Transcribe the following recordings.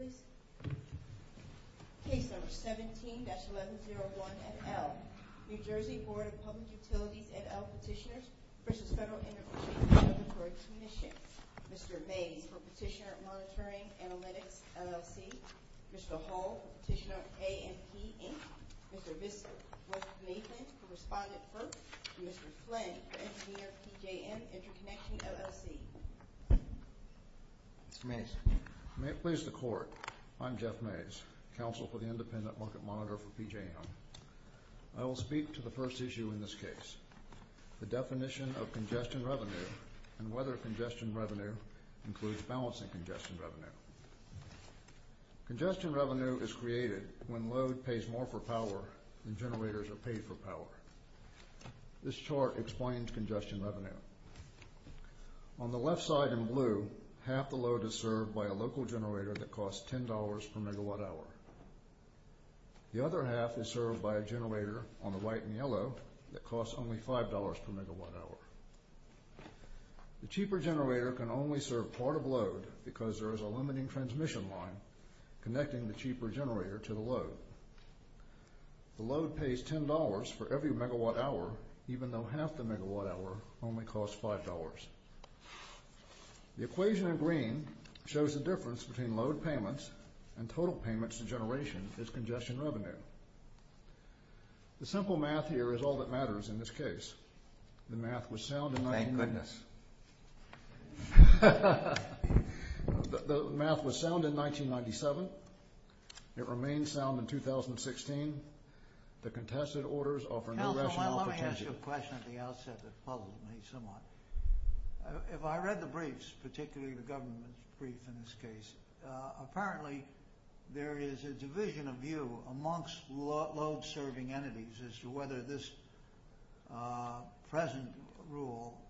17-1101 at L. New Jersey Board of Public Utilities at L Petitioners v. Federal Integrations Commission Mr. Mabey from Petitioner Monitoring Analytics LLC Mr. Hall from Petitioner A&P Inc. Mr. Bishop, Mr. Mason from Respondent Post, Mr. Flynn from Engineer PJM Interconnection LLC Mr. Mason May it please the Court, I'm Jeff Mason, Counsel for the Independent Market Monitor for PJM. I will speak to the first issue in this case, the definition of congestion revenue and whether congestion revenue includes balancing congestion revenue. Congestion revenue is created when load pays more for power than generators are paid for power. This chart explains congestion revenue. On the left side in blue, half the load is served by a local generator that costs $10 per MWh. The other half is served by a generator on the right in yellow that costs only $5 per MWh. The cheaper generator can only serve part of load because there is a limiting transmission line connecting the cheaper generator to the load. The load pays $10 for every MWh even though half the MWh only costs $5. The equation in green shows the difference between load payments and total payments to generation as congestion revenue. The simple math here is all that matters in this case. The math was sound in 1997. It remains sound in 2016. The contested orders offer no rational potential. Let me ask you a question at the outset that follows me somewhat. If I read the briefs, particularly the government brief in this case, apparently there is a division of view amongst load-serving entities as to whether this present rule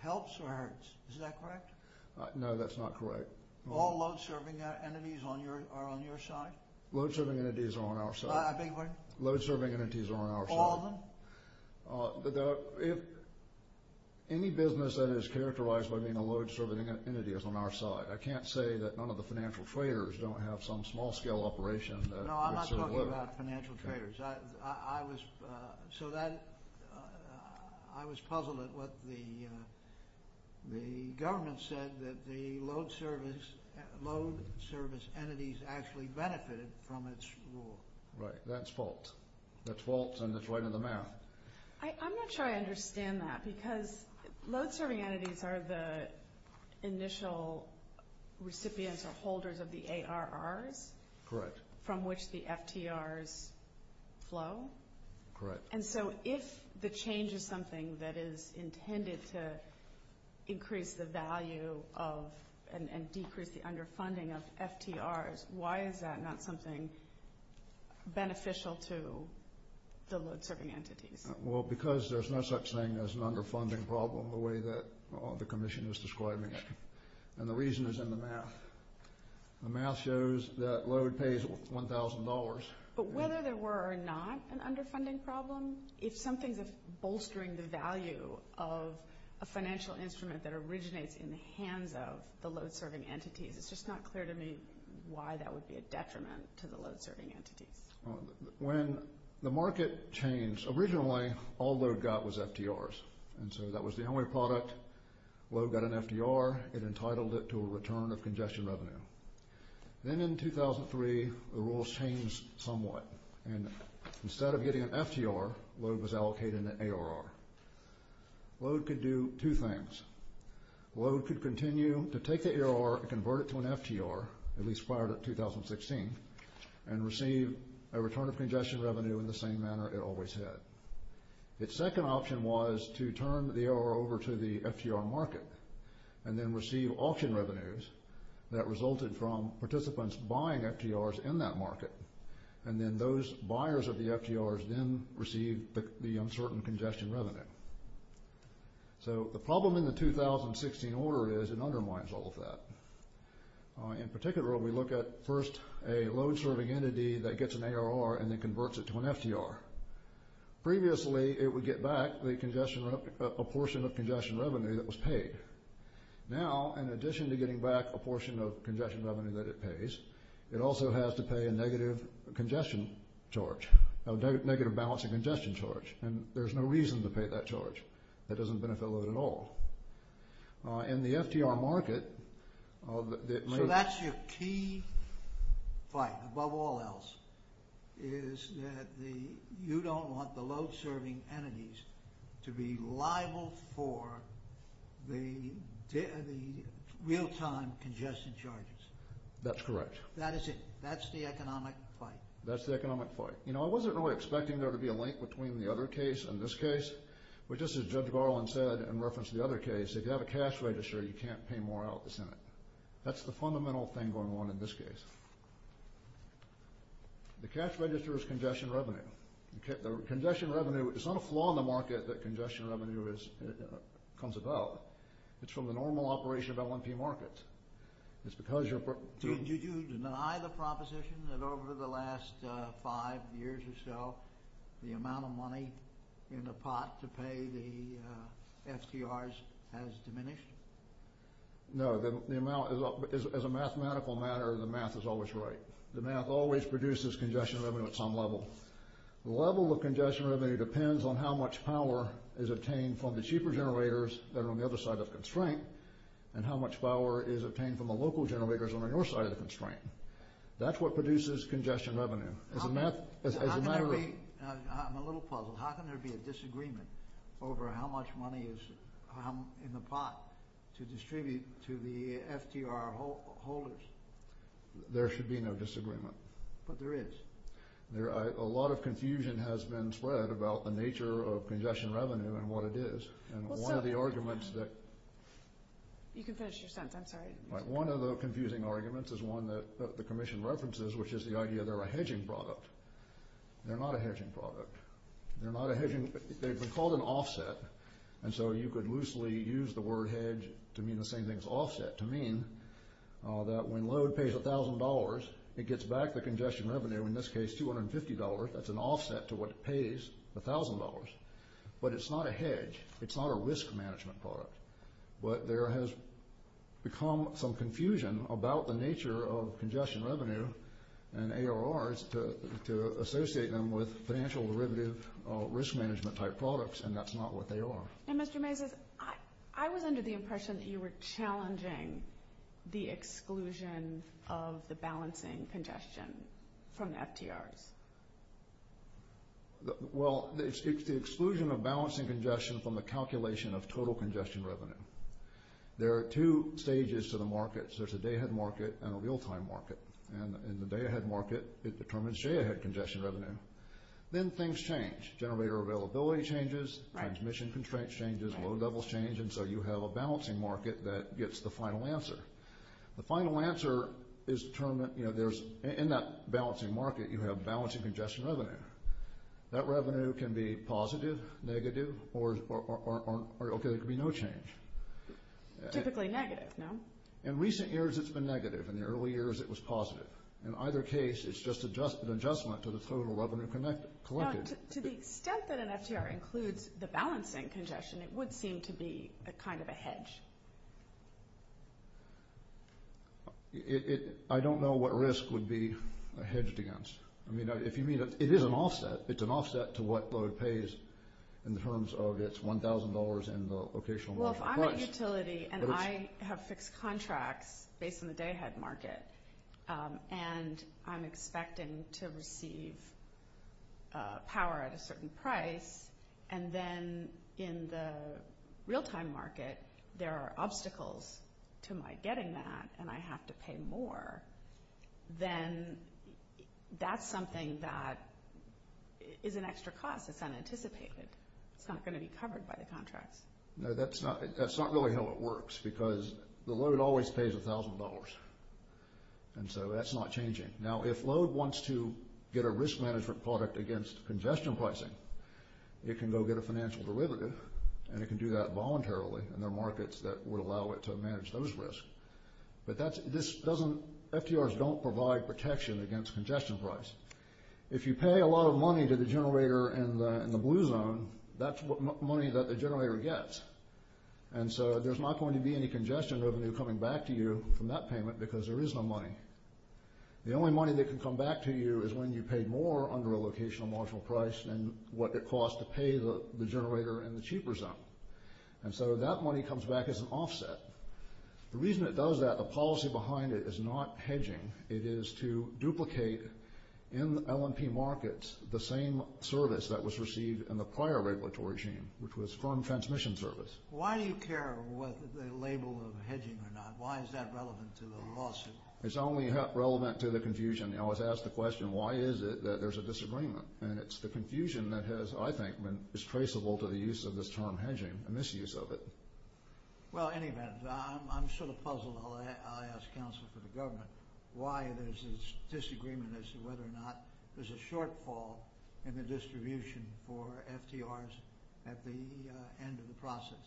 helps or hurts. Is that correct? No, that's not correct. All load-serving entities are on your side? Load-serving entities are on our side. I beg your pardon? Load-serving entities are on our side. All of them? If any business that is characterized by being a load-serving entity is on our side, I can't say that none of the financial traders don't have some small-scale operation. No, I'm not talking about financial traders. I was puzzled at what the government said, that the load-service entities actually benefited from this rule. Right, that's false. That's false and it's way to the mouth. I'm not sure I understand that because load-serving entities are the initial recipients or holders of the ARRs from which the FTRs flow. Correct. And so if the change is something that is intended to increase the value of and decrease the underfunding of FTRs, why is that not something beneficial to the load-serving entities? Well, because there's no such thing as an underfunding problem the way that the commission is describing it. And the reason is in the math. The math shows that load pays $1,000. But whether there were or not an underfunding problem, if something is bolstering the value of a financial instrument that originates in the hands of the load-serving entity, it's just not clear to me why that would be a detriment to the load-serving entity. When the market changed, originally all load got was FTRs. And so that was the only product. Load got an FTR. It entitled it to a return of congestion revenue. Then in 2003, the rules changed somewhat. And instead of getting an FTR, load was allocated an ARR. Load could do two things. Load could continue to take the ARR and convert it to an FTR, as expired in 2016, and receive a return of congestion revenue in the same manner it always had. Its second option was to turn the ARR over to the FTR market and then receive auction revenues that resulted from participants buying FTRs in that market. And then those buyers of the FTRs then received the uncertain congestion revenue. So the problem in the 2016 order is it undermines all of that. In particular, we look at first a load-serving entity that gets an ARR and then converts it to an FTR. Previously, it would get back a portion of congestion revenue that was paid. Now, in addition to getting back a portion of congestion revenue that it pays, it also has to pay a negative congestion charge, a negative balance of congestion charge. And there's no reason to pay that charge. That doesn't benefit load at all. In the FTR market... So that's your key fight, above all else, is that you don't want the load-serving entities to be liable for the real-time congestion charges. That's correct. That is it. That's the economic fight. That's the economic fight. You know, I wasn't really expecting there to be a link between the other case and this case. But just as Judge Garland said in reference to the other case, if you have a cash register, you can't pay more out at the Senate. That's the fundamental thing going on in this case. The cash register is congestion revenue. Congestion revenue, it's not a flaw in the market that congestion revenue comes about. It's from the normal operation of L&P markets. Did you deny the proposition that over the last five years or so, the amount of money in the pot to pay the FTRs has diminished? No. As a mathematical matter, the math is always right. The math always produces congestion revenue at some level. The level of congestion revenue depends on how much power is obtained from the cheaper generators that are on the other side of the constraint and how much power is obtained from the local generators on the north side of the constraint. That's what produces congestion revenue. I'm a little puzzled. How can there be a disagreement over how much money is in the pot to distribute to the FTR holders? There should be no disagreement. But there is. A lot of confusion has been spread about the nature of congestion revenue and what it is. And one of the arguments that— You can finish your sentence. I'm sorry. One of the confusing arguments is one that the Commission references, which is the idea they're a hedging product. They're not a hedging product. They're not a hedging—they've been called an offset. And so you could loosely use the word hedge to mean the same thing as offset, to mean that when load pays $1,000, it gets back the congestion revenue, in this case $250. That's an offset to what it pays, $1,000. But it's not a hedge. It's not a risk management product. But there has become some confusion about the nature of congestion revenue and ARRs to associate them with financial derivative risk management type products, and that's not what they are. And Mr. Mavis, I was under the impression that you were challenging the exclusion of the balancing congestion from the FTRs. Well, it's the exclusion of balancing congestion from the calculation of total congestion revenue. There are two stages to the markets. There's a day-ahead market and a real-time market. And in the day-ahead market, it determines day-ahead congestion revenue. Then things change. Generator availability changes. Transmission constraints changes. Load levels change. And so you have a balancing market that gets the final answer. The final answer is – in that balancing market, you have balancing congestion revenue. That revenue can be positive, negative, or it could be no change. Typically negative, no? In recent years, it's been negative. In the early years, it was positive. In either case, it's just an adjustment to the total revenue collected. Now, to the extent that an FTR includes the balancing congestion, it would seem to be kind of a hedge. I don't know what risk would be hedged against. I mean, if you mean – it is an offset. It's an offset to what load pays in terms of its $1,000 and the occasional market price. I have fixed contracts based on the day-ahead market, and I'm expecting to receive power at a certain price. And then in the real-time market, there are obstacles to my getting that, and I have to pay more. Then that's something that is an extra cost. It's unanticipated. It's not going to be covered by the contract. Now, that's not really how it works because the load always pays $1,000, and so that's not changing. Now, if load wants to get a risk management product against congestion pricing, it can go get a financial derivative, and it can do that voluntarily, and there are markets that would allow it to manage those risks. But FTRs don't provide protection against congestion pricing. If you pay a lot of money to the generator in the blue zone, that's money that the generator gets. And so there's not going to be any congestion revenue coming back to you from that payment because there is no money. The only money that can come back to you is when you pay more under a locational market price than what it costs to pay the generator in the cheaper zone. And so that money comes back as an offset. The reason it does that, the policy behind it, is not hedging. It is to duplicate in L&P markets the same service that was received in the prior regulatory regime, which was firm transmission service. Why do you care whether they label it hedging or not? Why is that relevant to the lawsuit? It's only relevant to the confusion. I was asked the question, why is it that there's a disagreement? And it's the confusion that has, I think, been distraceable to the use of this term hedging, the misuse of it. Well, anyway, I'm sort of puzzled, and I'll ask counsel for the government, why there's this disagreement as to whether or not there's a shortfall in the distribution for FTRs at the end of the process.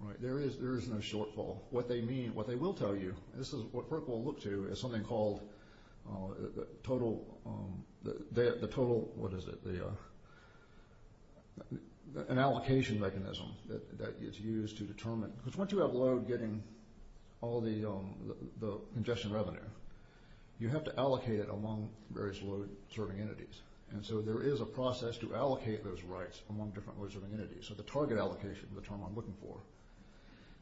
Right, there is no shortfall. What they mean, what they will tell you, this is what FERC will look to, is something called the total, what is it, an allocation mechanism that is used to determine, because once you have load getting all the congestion revenue, you have to allocate it among various load-reserving entities. And so there is a process to allocate those rights among different load-reserving entities. So the target allocation is the term I'm looking for.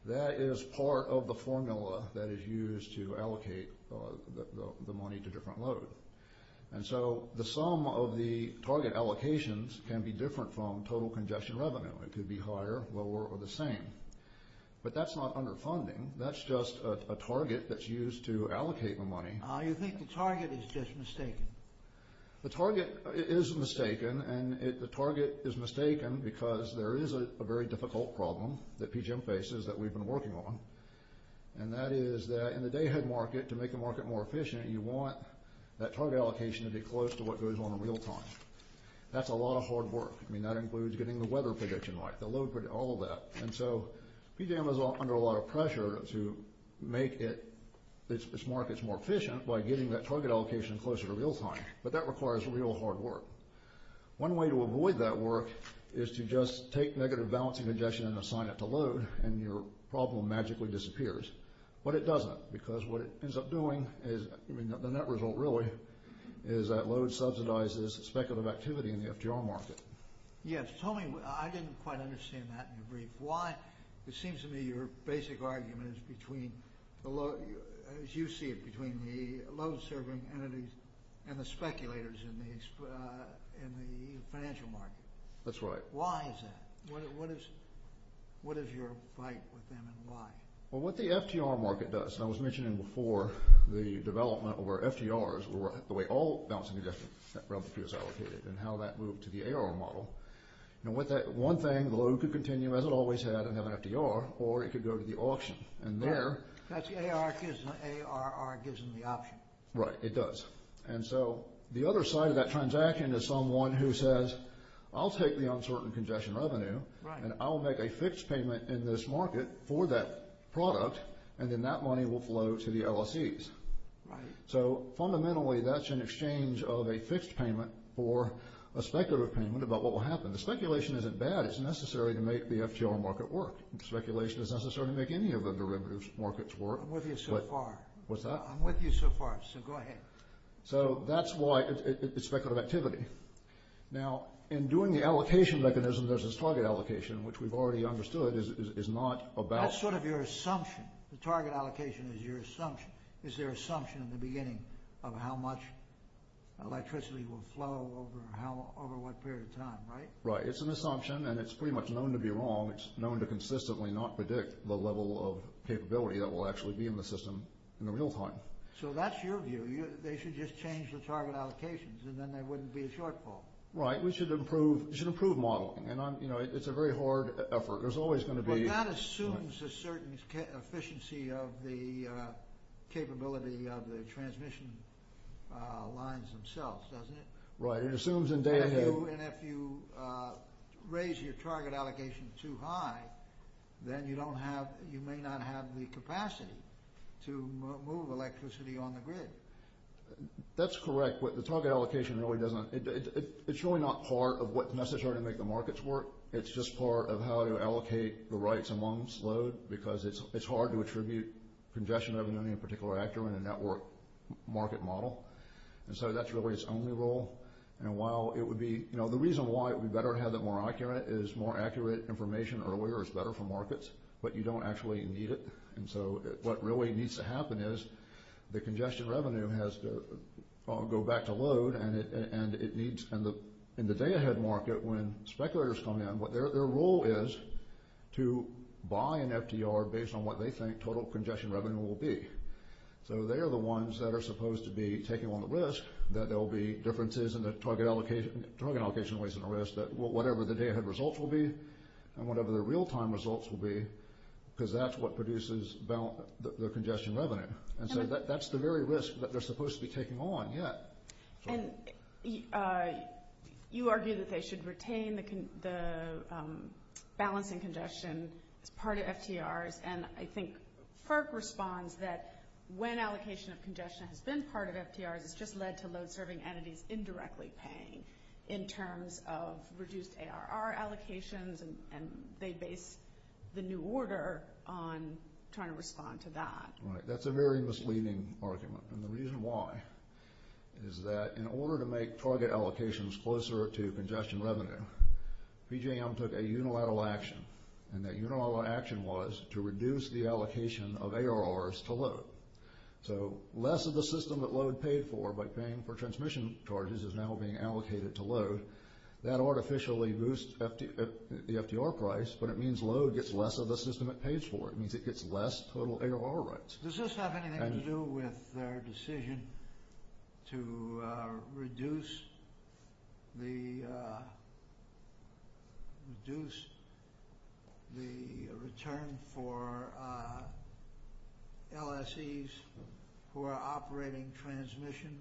That is part of the formula that is used to allocate the money to different load. And so the sum of the target allocations can be different from total congestion revenue. It could be higher, lower, or the same. But that's not underfunding. That's just a target that's used to allocate the money. You think the target is just mistaken? The target is mistaken, and the target is mistaken because there is a very difficult problem that PGM faces that we've been working on, and that is that in the dayhead market, to make the market more efficient, you want that target allocation to be close to what goes on in real time. That's a lot of hard work. I mean, that includes getting the weather prediction right, the load prediction, all of that. And so PGM is under a lot of pressure to make its markets more efficient by getting that target allocation closer to real time, but that requires real hard work. One way to avoid that work is to just take negative balance of congestion and assign it to load, and your problem magically disappears. But it doesn't, because what it ends up doing is, the net result really, is that load subsidizes speculative activity in the FGR market. Yes. Tony, I didn't quite understand that in your brief. Why? It seems to me your basic argument is between, as you see it, between the load-serving entities and the speculators in the financial market. That's right. Why is that? What is your fight with them, and why? Well, what the FGR market does, and I was mentioning before the development of our FGRs, the way all balance of congestion is allocated, and how that moved to the AR model, and with that one thing, the load could continue, as it always had, and have an FGR, or it could go to the auction. And there— That's AR gives them the option. Right, it does. And so the other side of that transaction is someone who says, I'll take the uncertain congestion revenue, and I'll make a fixed payment in this market for that product, and then that money will flow to the LSEs. Right. So fundamentally, that's an exchange of a fixed payment for a speculative payment about what will happen. The speculation isn't bad. It's necessary to make the FGR market work. The speculation isn't necessary to make any of the derivatives markets work. I'm with you so far. What's that? I'm with you so far, so go ahead. So that's why it's speculative activity. Now, in doing the allocation mechanism, there's this target allocation, which we've already understood is not about— That's sort of your assumption. The target allocation is your assumption. Is their assumption in the beginning of how much electricity will flow over what period of time, right? Right. It's an assumption, and it's pretty much known to be wrong. It's known to consistently not predict the level of capability that will actually be in the system in the real time. So that's your view. They should just change the target allocations, and then there wouldn't be a shortfall. Right. We should improve modeling. And it's a very hard effort. There's always going to be— That assumes a certain efficiency of the capability of the transmission lines themselves, doesn't it? Right. It assumes in day and day. And if you raise your target allocation too high, then you may not have the capacity to move electricity on the grid. That's correct, but the target allocation really doesn't—it's really not part of what's necessary to make the markets work. It's just part of how you allocate the rights amongst load, because it's hard to attribute congestion revenue in a particular actor in a network market model. And so that's really its only role. And while it would be—the reason why it would be better to have it more accurate is more accurate information earlier is better for markets, but you don't actually need it. And so what really needs to happen is the congestion revenue has to go back to load, and it needs—in the day ahead market, when speculators come in, what their role is to buy an FDR based on what they think total congestion revenue will be. So they are the ones that are supposed to be taking on the risk that there will be differences in the target allocation ways in the risk, whatever the day ahead results will be and whatever the real-time results will be, because that's what produces the congestion revenue. And so that's the very risk that they're supposed to be taking on. And you argue that they should retain the balancing congestion part of FDRs, and I think FERC responds that when allocation of congestion has been part of FDRs, it's just led to load-serving entities indirectly paying in terms of reduced ARR allocations, and they base the new order on trying to respond to that. Right. That's a very misleading argument. And the reason why is that in order to make target allocations closer to congestion revenue, PJM took a unilateral action, and that unilateral action was to reduce the allocation of ARRs to load. So less of the system that load paid for by paying for transmission charges is now being allocated to load. That artificially boosts the FDR price, but it means load gets less of the system it pays for. It means it gets less total ARR rates. Does this have anything to do with their decision to reduce the return for LSEs who are operating transmission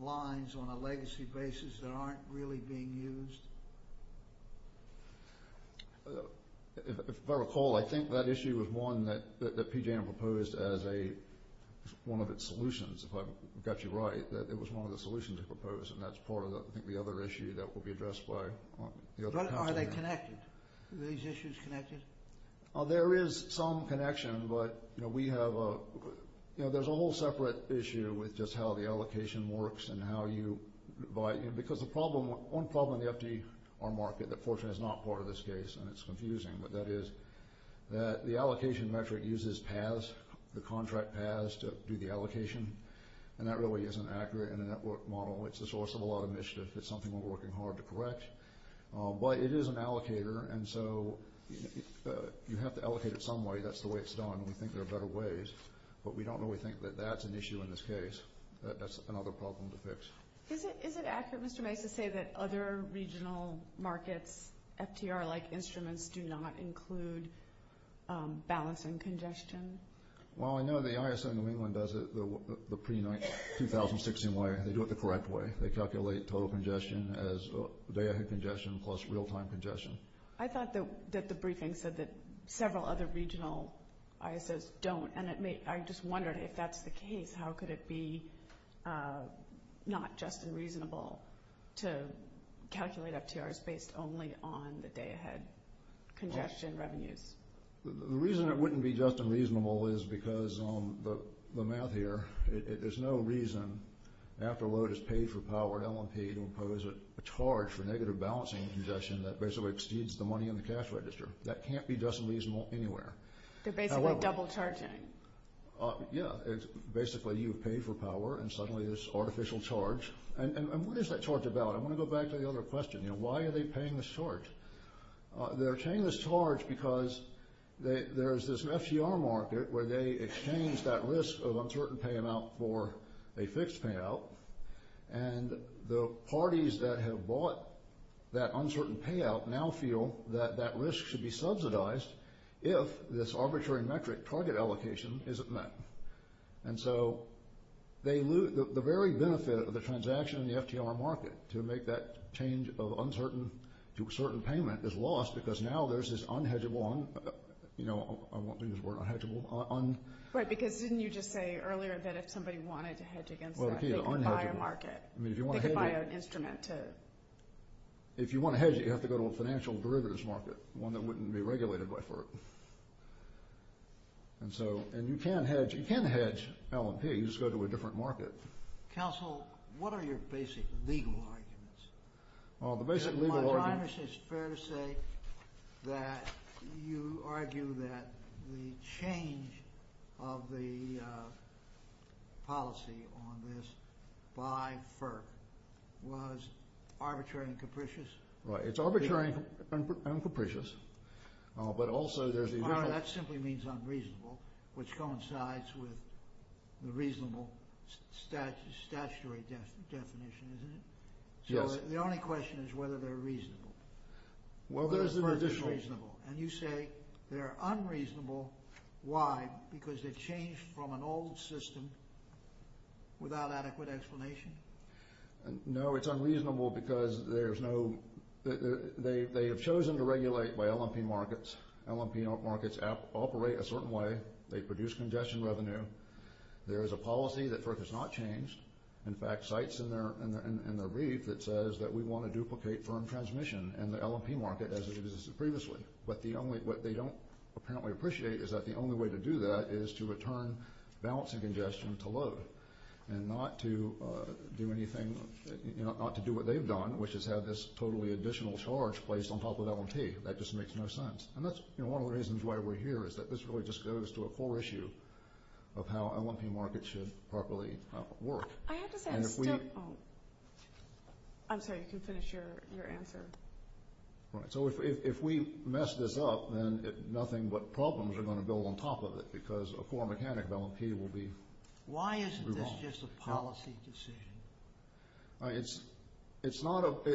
lines on a legacy basis that aren't really being used? If I recall, I think that issue is one that PJM proposed as a – one of its solutions, if I've got you right, that it was one of the solutions it proposed, and that's part of the other issue that will be addressed by – Are they connected? Are these issues connected? There is some connection, but we have – there's a whole separate issue with just how the allocation works and how you – because the problem – one problem in the FDR market that fortunately is not part of this case, and it's confusing, but that is that the allocation metric uses paths, the contract paths to do the allocation, and that really isn't accurate in a network model. It's the source of a lot of mischief. It's something we're working hard to correct. But it is an allocator, and so you have to allocate it some way. That's the way it's done, and we think there are better ways, but we don't really think that that's an issue in this case. That's another problem to fix. Is it accurate, Mr. May, to say that other regional markets, FDR-like instruments, do not include balancing congestion? Well, I know the ISO in New England does it the pre-2016 way. They do it the correct way. They calculate total congestion as day-after-day congestion plus real-time congestion. I thought that the briefing said that several other regional ISOs don't, and I'm just wondering, if that's the case, how could it be not just and reasonable to calculate FDRs based only on the day-ahead congestion revenue? The reason it wouldn't be just and reasonable is because the math here. There's no reason after a load is paid for power, LMP, to impose a charge for negative balancing congestion that basically exceeds the money in the cash register. That can't be just and reasonable anywhere. They're basically double-charging. Yeah. Basically, you pay for power, and suddenly there's artificial charge. And what is that charge about? I want to go back to the other question. Why are they paying this charge? They're paying this charge because there's this FDR market where they exchange that risk of uncertain payout for a fixed payout, and the parties that have bought that uncertain payout now feel that that risk should be subsidized if this arbitrary metric target allocation isn't met. And so the very benefit of the transaction in the FDR market to make that change of uncertain payment is lost because now there's this unhedgable – I won't do this word, unhedgable – un… Right, because didn't you just say earlier that if somebody wanted to hedge against that… Well, the key is unhedgable. …buy a market. I mean, if you want to hedge… Get it by an instrument, too. If you want to hedge it, you have to go to a financial derivatives market, one that wouldn't be regulated by FERC. And so – and you can hedge – you can hedge L&P. You just go to a different market. Counsel, what are your basic legal arguments? Well, the basic legal arguments… It's fair to say that you argue that the change of the policy on this by FERC was arbitrary and capricious. Right, it's arbitrary and capricious, but also there's the… Well, that simply means unreasonable, which coincides with the reasonable statutory definition, isn't it? Yes. Well, the only question is whether they're reasonable. Well, those are additional… Whether it's reasonable. And you say they're unreasonable. Why? Because they've changed from an old system without adequate explanation? No, it's unreasonable because there's no – they have chosen to regulate by L&P markets. L&P markets operate a certain way. They produce congestion revenue. There is a policy that FERC has not changed. In fact, CITE's in their brief that says that we want to duplicate firm transmission and the L&P market as it is previously. But the only – what they don't apparently appreciate is that the only way to do that is to return balance of congestion to low and not to do anything – not to do what they've done, which is have this totally additional charge placed on top of L&P. That just makes no sense. And that's – you know, one of the reasons why we're here is that this really just goes to a core issue of how L&P markets should properly work. I have a question. And if we… I'm sorry. You can finish your answer. All right. So if we mess this up, then nothing but problems are going to build on top of it because a core mechanic of L&P will be… Why isn't this just a policy decision? It's not a –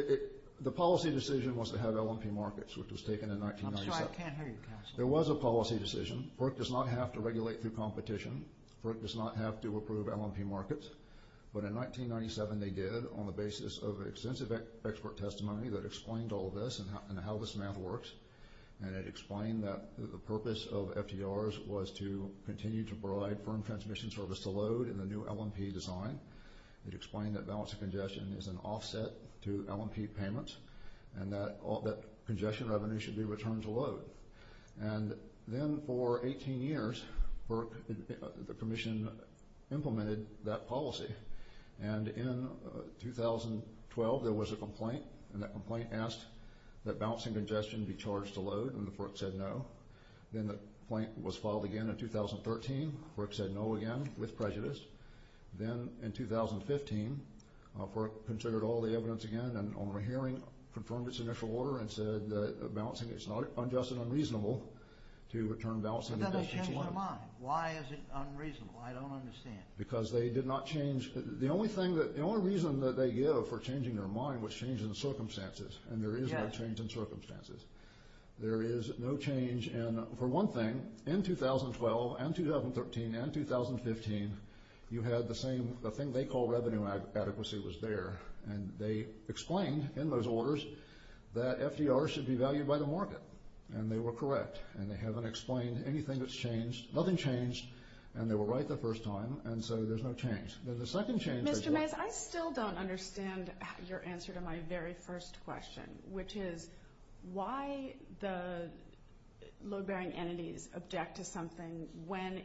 the policy decision was to have L&P markets, which was taken in 1997. I'm sorry. I can't hear you, Counselor. There was a policy decision. PERC does not have to regulate through competition. PERC does not have to approve L&P markets. But in 1997, they did on the basis of extensive expert testimony that explained all of this and how this math works. And it explained that the purpose of FDRs was to continue to provide firm transmission service to load in the new L&P design. It explained that balance of congestion is an offset to L&P payments and that congestion revenue should be returned to load. And then for 18 years, PERC – the Commission implemented that policy. And in 2012, there was a complaint, and that complaint asked that balance of congestion be charged to load, and the PERC said no. Then the complaint was filed again in 2013. PERC said no again with prejudice. Then in 2015, PERC considered all the evidence again and, on a hearing, confirmed its initial order and said that balancing is not unjust and unreasonable to return balance of congestion. But that doesn't change their mind. Why is it unreasonable? I don't understand. Because they did not change – the only thing that – the only reason that they give for changing their mind was change in circumstances. And there is no change in circumstances. There is no change in – for one thing, in 2012 and 2013 and 2015, you had the same – the thing they call revenue adequacy was there. And they explained in those orders that FDRs should be valued by the market, and they were correct. And they haven't explained anything that's changed. Nothing changed, and they were right the first time, and so there's no change. I still don't understand your answer to my very first question, which is why the load-bearing entities object to something when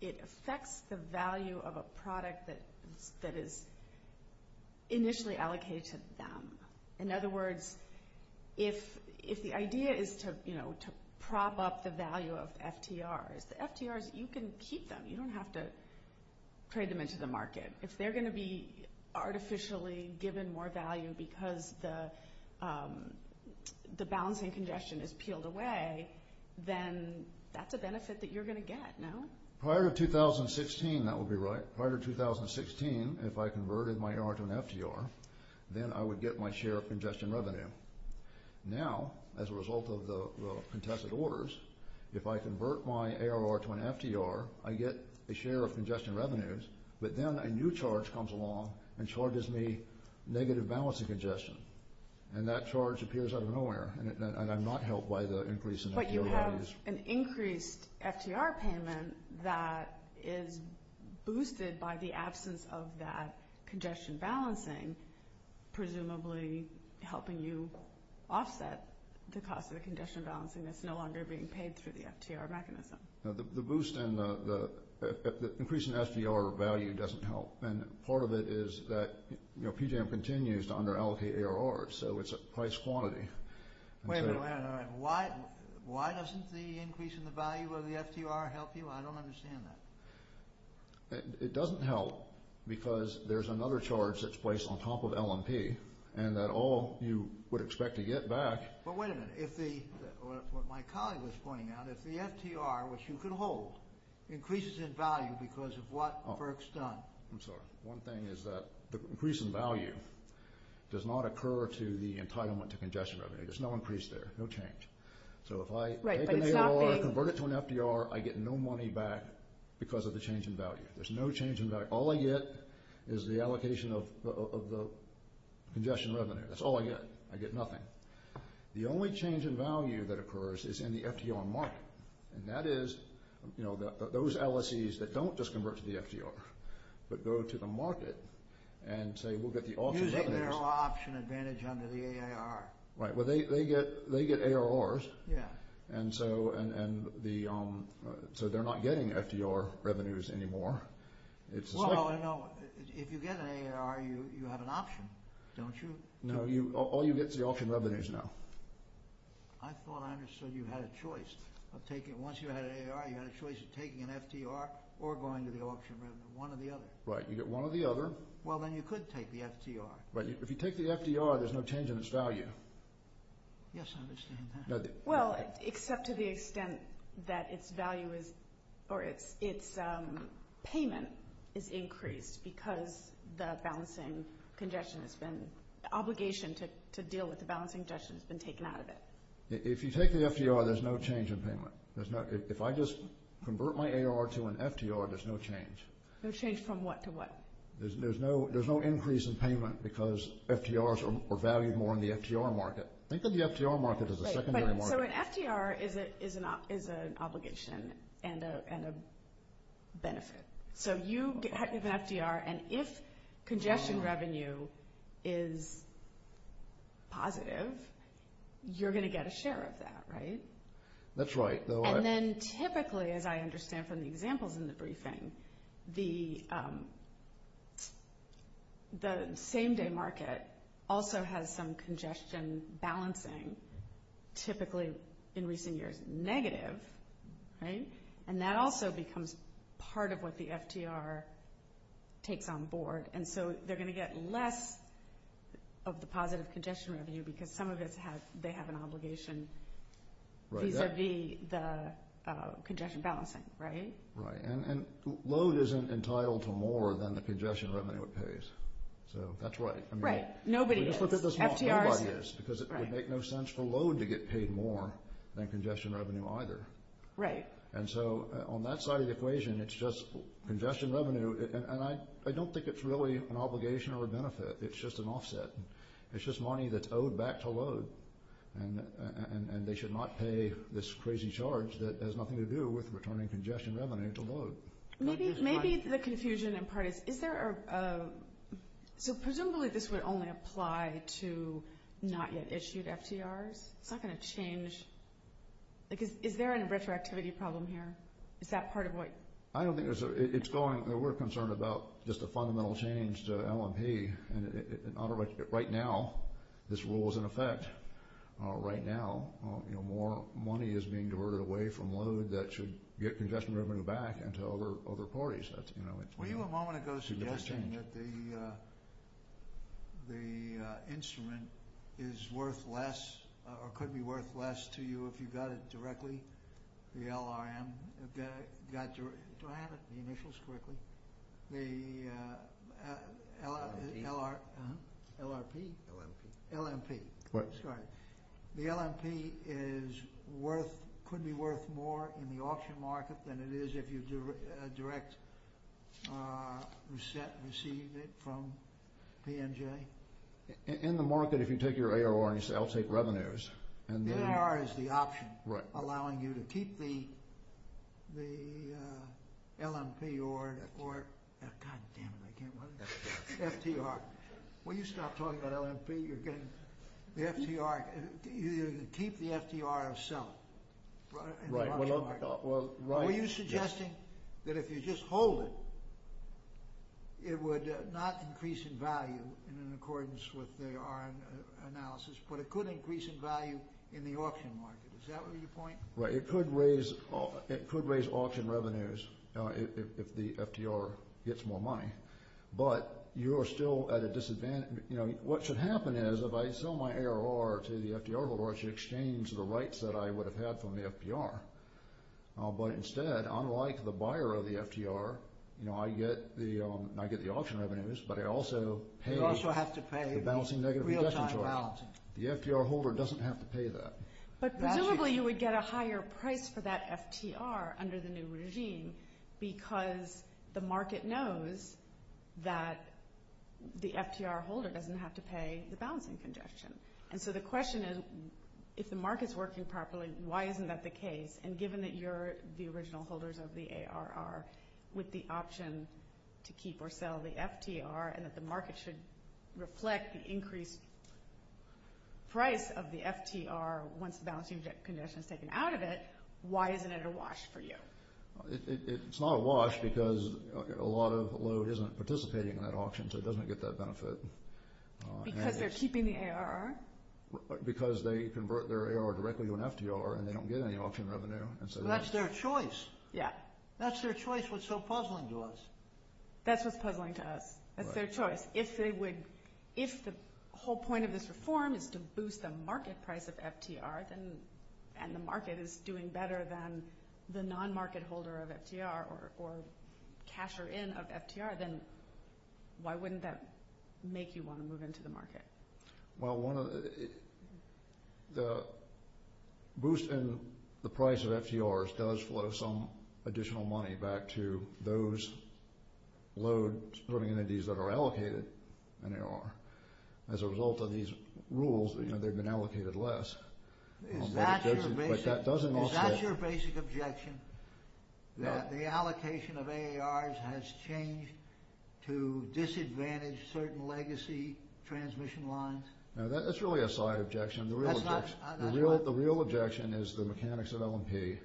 it affects the value of a product that is initially allocated to them. In other words, if the idea is to prop up the value of FTRs, FTRs, you can keep them. You don't have to trade them into the market. If they're going to be artificially given more value because the balancing congestion is peeled away, then that's a benefit that you're going to get, no? Now, as a result of the contested orders, if I convert my ARR to an FTR, I get a share of congestion revenues, but then a new charge comes along and charges me negative balancing congestion. And that charge appears out of nowhere, and I'm not helped by the increase in FDR revenues. So there's an increased FTR payment that is boosted by the absence of that congestion balancing, presumably helping you offset the cost of the congestion balancing that's no longer being paid through the FTR mechanism. The boost in the increase in FDR value doesn't help, and part of it is that PGM continues to under-allocate ARRs, so it's a price quantity. Wait a minute, why doesn't the increase in the value of the FTR help you? I don't understand that. It doesn't help because there's another charge that's placed on top of L&P, and that all you would expect to get back... But wait a minute, if the, what my colleague was pointing out, if the FTR, which you could hold, increases in value because of what Burke's done... I'm sorry, one thing is that the increase in value does not occur through the entitlement to congestion revenue. There's no increase there, no change. So if I take an ARR and convert it to an FTR, I get no money back because of the change in value. There's no change in value. All I get is the allocation of the congestion revenue. That's all I get. I get nothing. The only change in value that occurs is in the FTR market, and that is those LSEs that don't just convert to the FTR. But go to the market and say, we'll get the option... You take their option advantage under the ARR. Right, but they get ARRs. Yeah. And so they're not getting FTR revenues anymore. Well, no, if you get an ARR, you have an option, don't you? No, all you get is the option revenues now. I thought I understood you had a choice. Once you had ARR, you had a choice of taking an FTR or going to the option revenue, one or the other. Right. You get one or the other. Well, then you could take the FTR. Right. If you take the FTR, there's no change in its value. Yes, I understand that. Well, except to the extent that its value or its payment is increased because the balancing congestion has been... the obligation to deal with the balancing congestion has been taken out of it. If you take the FTR, there's no change in payment. If I just convert my ARR to an FTR, there's no change. No change from what to what? There's no increase in payment because FTRs are valued more in the FTR market. I think that the FTR market is a secondary market. So an FTR is an obligation and a benefit. So you have an FTR, and if congestion revenue is positive, you're going to get a share of that, right? That's right. And then typically, as I understand from the examples in the briefing, the same-day market also has some congestion balancing, typically in recent years negative, right? And that also becomes part of what the FTR takes on board. And so they're going to get less of the positive congestion revenue because some of it they have an obligation. These are the congestion balancing, right? Right. And load isn't entitled to more than the congestion revenue it pays. So that's right. Right. Nobody is. FTR is. Because it would make no sense for load to get paid more than congestion revenue either. Right. And so on that side of the equation, it's just congestion revenue. And I don't think it's really an obligation or a benefit. It's just an offset. It's just money that's owed back to load. And they should not pay this crazy charge that has nothing to do with returning congestion revenue to load. Maybe it's the confusion in part. Is there a – so presumably this would only apply to not-yet-issued FTRs? It's not going to change – like, is there a retroactivity problem here? Is that part of what – I don't think there's – it's going – we're concerned about just a fundamental change to LMP. Right now, this rule is in effect. Right now, you know, more money is being diverted away from load that should get congestion revenue back over parties. That's, you know – Were you a moment ago suggesting that the instrument is worth less or could be worth less to you if you got it directly, the LRM? Do I have the initials correctly? The LRP? LRP? LMP. LMP. That's right. The LMP is worth – could be worth more in the auction market than it is if you direct receive it from the NJ? In the market, if you take your ARR and you say, I'll take revenues, and then – LMP or – goddammit, I can't remember. FTR. When you start talking about LMP, you're getting – the FTR – you keep the FTR itself. Right. Were you suggesting that if you just hold it, it would not increase in value in accordance with the analysis, but it could increase in value in the auction market? Is that what you point? Right. It could raise auction revenues if the FTR gets more money. But you're still at a disadvantage. What should happen is if I sell my ARR to the FTR holder, it should exchange the rights that I would have had from the FTR. But instead, unlike the buyer of the FTR, I get the auction revenues, but I also pay – You also have to pay real-time balancing. The FTR holder doesn't have to pay that. But presumably, you would get a higher price for that FTR under the new regime because the market knows that the FTR holder doesn't have to pay the balancing congestion. And so the question is, if the market's working properly, why isn't that the case? And given that you're the original holders of the ARR with the option to keep or sell the FTR and that the market should reflect the increased price of the FTR once the balancing congestion is taken out of it, why isn't it a wash for you? It's not a wash because a lot of load isn't participating in that auction, so it doesn't get that benefit. Because they're keeping the ARR? Because they convert their ARR directly to an FTR and they don't get any auction revenue. Well, that's their choice. Yeah. That's their choice, what's so puzzling to us. That's what's puzzling to us. That's their choice. If they would – if the whole point of this reform is to boost the market price of FTR and the market is doing better than the non-market holder of FTR or casher-in of FTR, then why wouldn't that make you want to move into the market? Well, one of the – the boost in the price of FTRs does flow some additional money back to those load entities that are allocated an ARR. As a result of these rules, they've been allocated less. Is that your basic objection, that the allocation of ARRs has changed to disadvantage certain legacy transmission lines? No, that's really a side objection. The real objection is the mechanics of L&P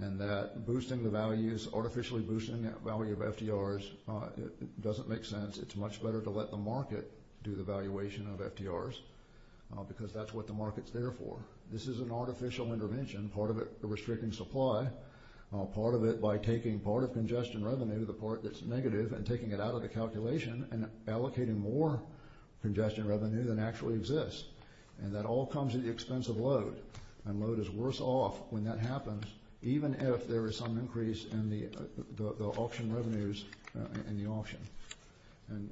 and that boosting the values, artificially boosting the value of FTRs doesn't make sense. It's much better to let the market do the valuation of FTRs because that's what the market's there for. This is an artificial intervention, part of it restricting supply, part of it by taking part of congestion revenue, the part that's negative, and taking it out of the calculation and allocating more congestion revenue than actually exists. And that all comes at the expense of load. And load is worse off when that happens, even if there is some increase in the auction revenues in the auction. Further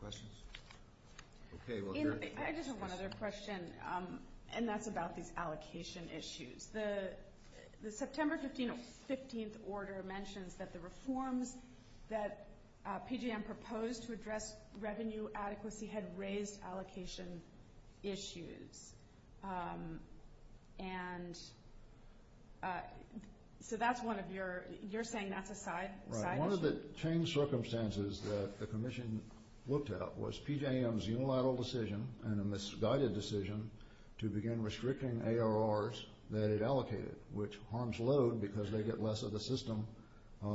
questions? Okay. I just have one other question, and that's about these allocation issues. The September 15th order mentions that the reforms that PJM proposed to address revenue adequacy had raised allocation issues. And so that's one of your – you're saying that's a side issue? Right. One of the changed circumstances that the Commission looked at was PJM's unilateral decision and a misguided decision to begin restricting ARRs that it allocated, which harms load because they get less of the system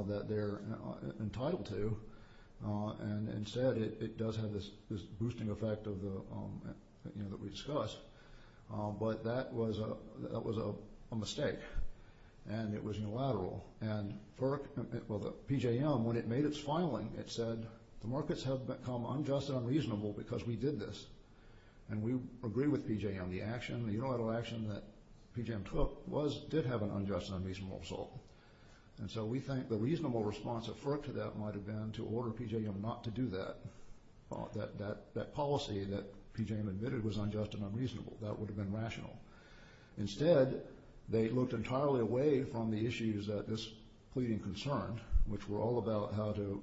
that they're entitled to. And instead, it does have this boosting effect that we discussed. But that was a mistake, and it was unilateral. And FERC – well, PJM, when it made its filing, it said the markets have become unjust and unreasonable because we did this. And we agree with PJM. The action, the unilateral action that PJM took was – did have an unjust and unreasonable result. And so we think the reasonable response of FERC to that might have been to order PJM not to do that, that policy that PJM admitted was unjust and unreasonable. That would have been rational. Instead, they looked entirely away from the issues that this pleading concerned, which were all about how to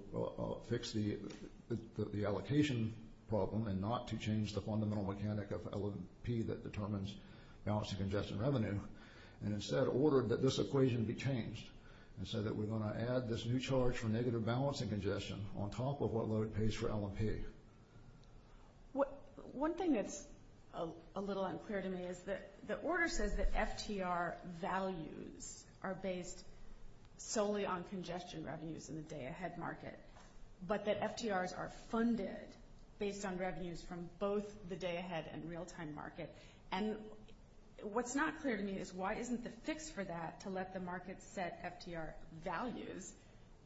fix the allocation problem and not to change the fundamental mechanic of L&P that determines balance of congestion revenue, and instead ordered that this equation be changed and said that we're going to add this new charge for negative balance of congestion on top of what load pays for L&P. One thing that's a little unclear to me is that the order says that FTR values are based solely on congestion revenues in the day-ahead market, but that FTRs are funded based on revenues from both the day-ahead and real-time markets. And what's not clear to me is why isn't it fixed for that to let the market set FTR values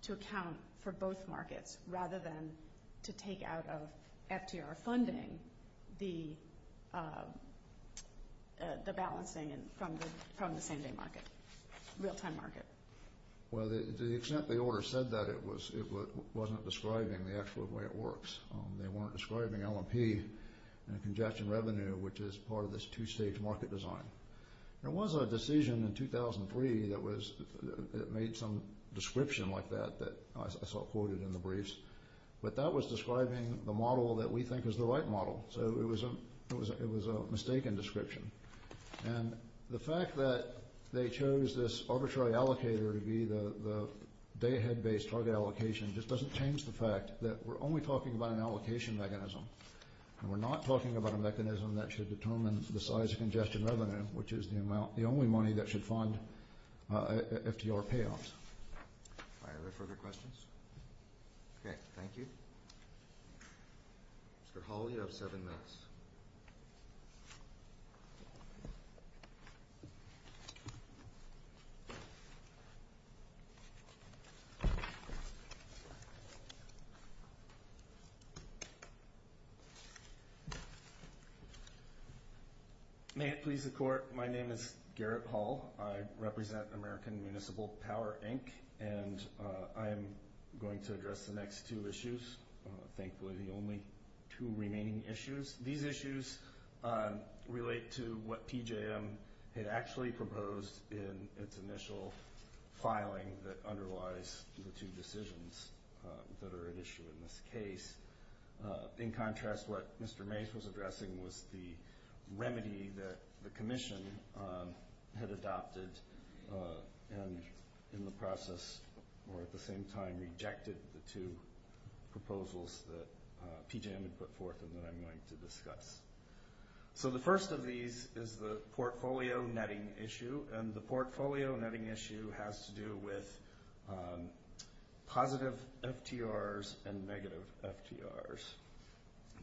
to account for both markets rather than to take out of FTR funding the balancing from the same-day market, real-time market. Well, to the extent the order said that, it wasn't describing the actual way it works. They weren't describing L&P and congestion revenue, which is part of this two-stage market design. There was a decision in 2003 that made some description like that that I saw quoted in the briefs, but that was describing the model that we think is the right model, so it was a mistaken description. And the fact that they chose this arbitrary allocator to be the day-ahead-based target allocation just doesn't change the fact that we're only talking about an allocation mechanism, and we're not talking about a mechanism that should determine the size of congestion revenue, which is the only money that should fund FTR payoffs. Are there further questions? Okay, thank you. For Hall, you have seven minutes. May it please the Court, my name is Garrett Hall. I represent American Municipal Power, Inc., and I am going to address the next two issues, thankfully the only two remaining issues. These issues relate to what PJM had actually proposed in its initial filing that underlies the two decisions that are at issue in this case. In contrast, what Mr. Mace was addressing was the remedy that the Commission had adopted and in the process or at the same time rejected the two proposals that PJM had put forth and that I'm going to discuss. So the first of these is the portfolio netting issue, and the portfolio netting issue has to do with positive FTRs and negative FTRs.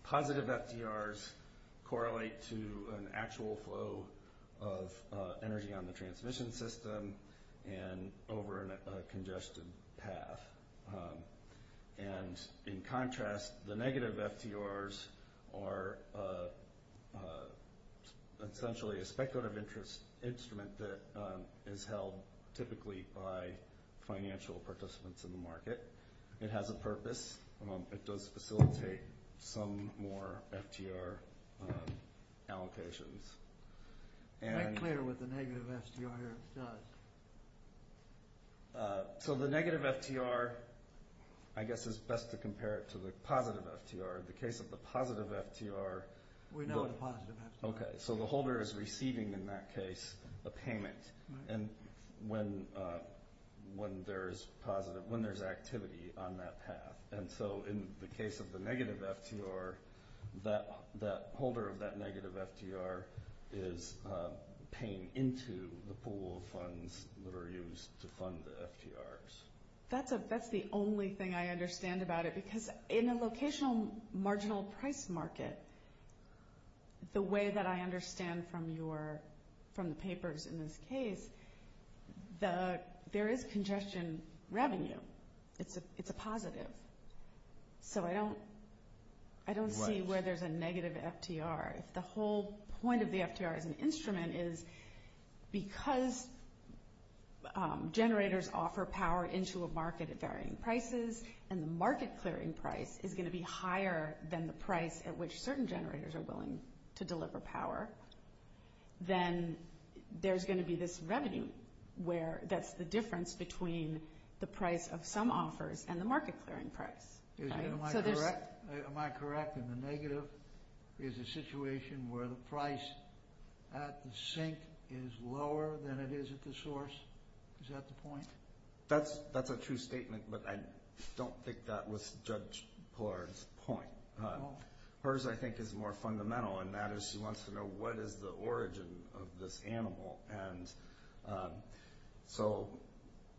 Positive FTRs correlate to an actual flow of energy on the transmission system and over a congested path. And in contrast, the negative FTRs are essentially a speculative interest instrument that is held typically by financial participants in the market. It has a purpose. It does facilitate some more FTR allocations. Is that clear what the negative FTR here does? So the negative FTR, I guess it's best to compare it to the positive FTR. In the case of the positive FTR... We know the positive FTR. Okay. So the holder is receiving in that case a payment when there's activity on that path. And so in the case of the negative FTR, that holder of that negative FTR is paying into the pool of funds that are used to fund the FTRs. That's the only thing I understand about it, because in a locational marginal price market, the way that I understand from the papers in this case, there is congestion revenue. It's a positive. So I don't see where there's a negative FTR. The whole point of the FTR as an instrument is because generators offer power into a market at varying prices, and the market clearing price is going to be higher than the price at which certain generators are willing to deliver power, then there's going to be this revenue where that's the difference between the price of some offers and the market clearing price. Am I correct? Am I correct in the negative is a situation where the price at the sink is lower than it is at the source? Is that the point? That's a true statement, but I don't think that was Judge Pollard's point. Hers, I think, is more fundamental, and that is she wants to know what is the origin of this animal. So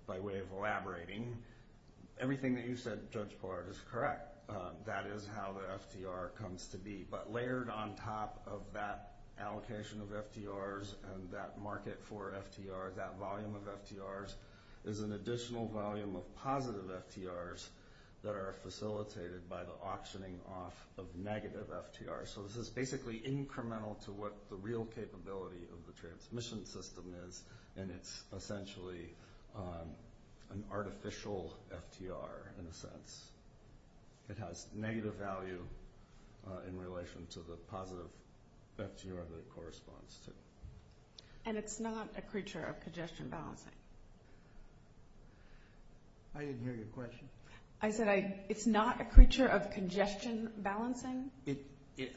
by way of elaborating, everything that you said, Judge Pollard, is correct. That is how the FTR comes to be. But layered on top of that allocation of FTRs and that market for FTR, that volume of FTRs, is an additional volume of positive FTRs that are facilitated by the auctioning off of negative FTRs. So this is basically incremental to what the real capability of the transmission system is, and it's essentially an artificial FTR in a sense. It has negative value in relation to the positive FTR that it corresponds to. And it's not a creature of congestion balancing? I didn't hear your question. I said it's not a creature of congestion balancing?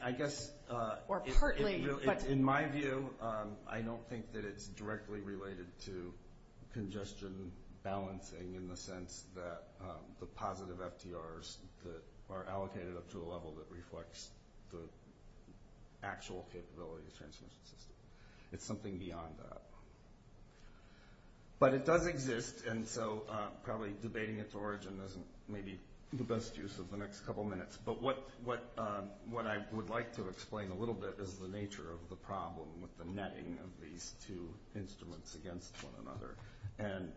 I guess in my view, I don't think that it's directly related to congestion balancing in the sense that the positive FTRs are allocated up to a level that reflects the actual capability of the transmission system. It's something beyond that. But it does exist, and so probably debating its origin is maybe the best use of the next couple minutes. But what I would like to explain a little bit is the nature of the problem with the netting of these two instruments against one another. And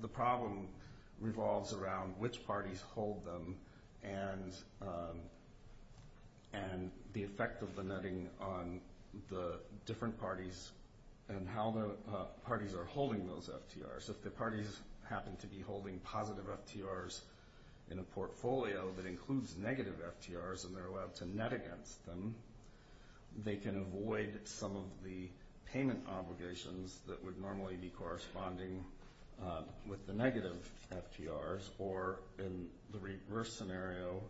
the problem revolves around which parties hold them and the effect of the netting on the different parties and how the parties are holding those FTRs. If the parties happen to be holding positive FTRs in a portfolio that includes negative FTRs and they're allowed to net against them, they can avoid some of the payment obligations that would normally be corresponding with the negative FTRs. Or in the reverse scenario,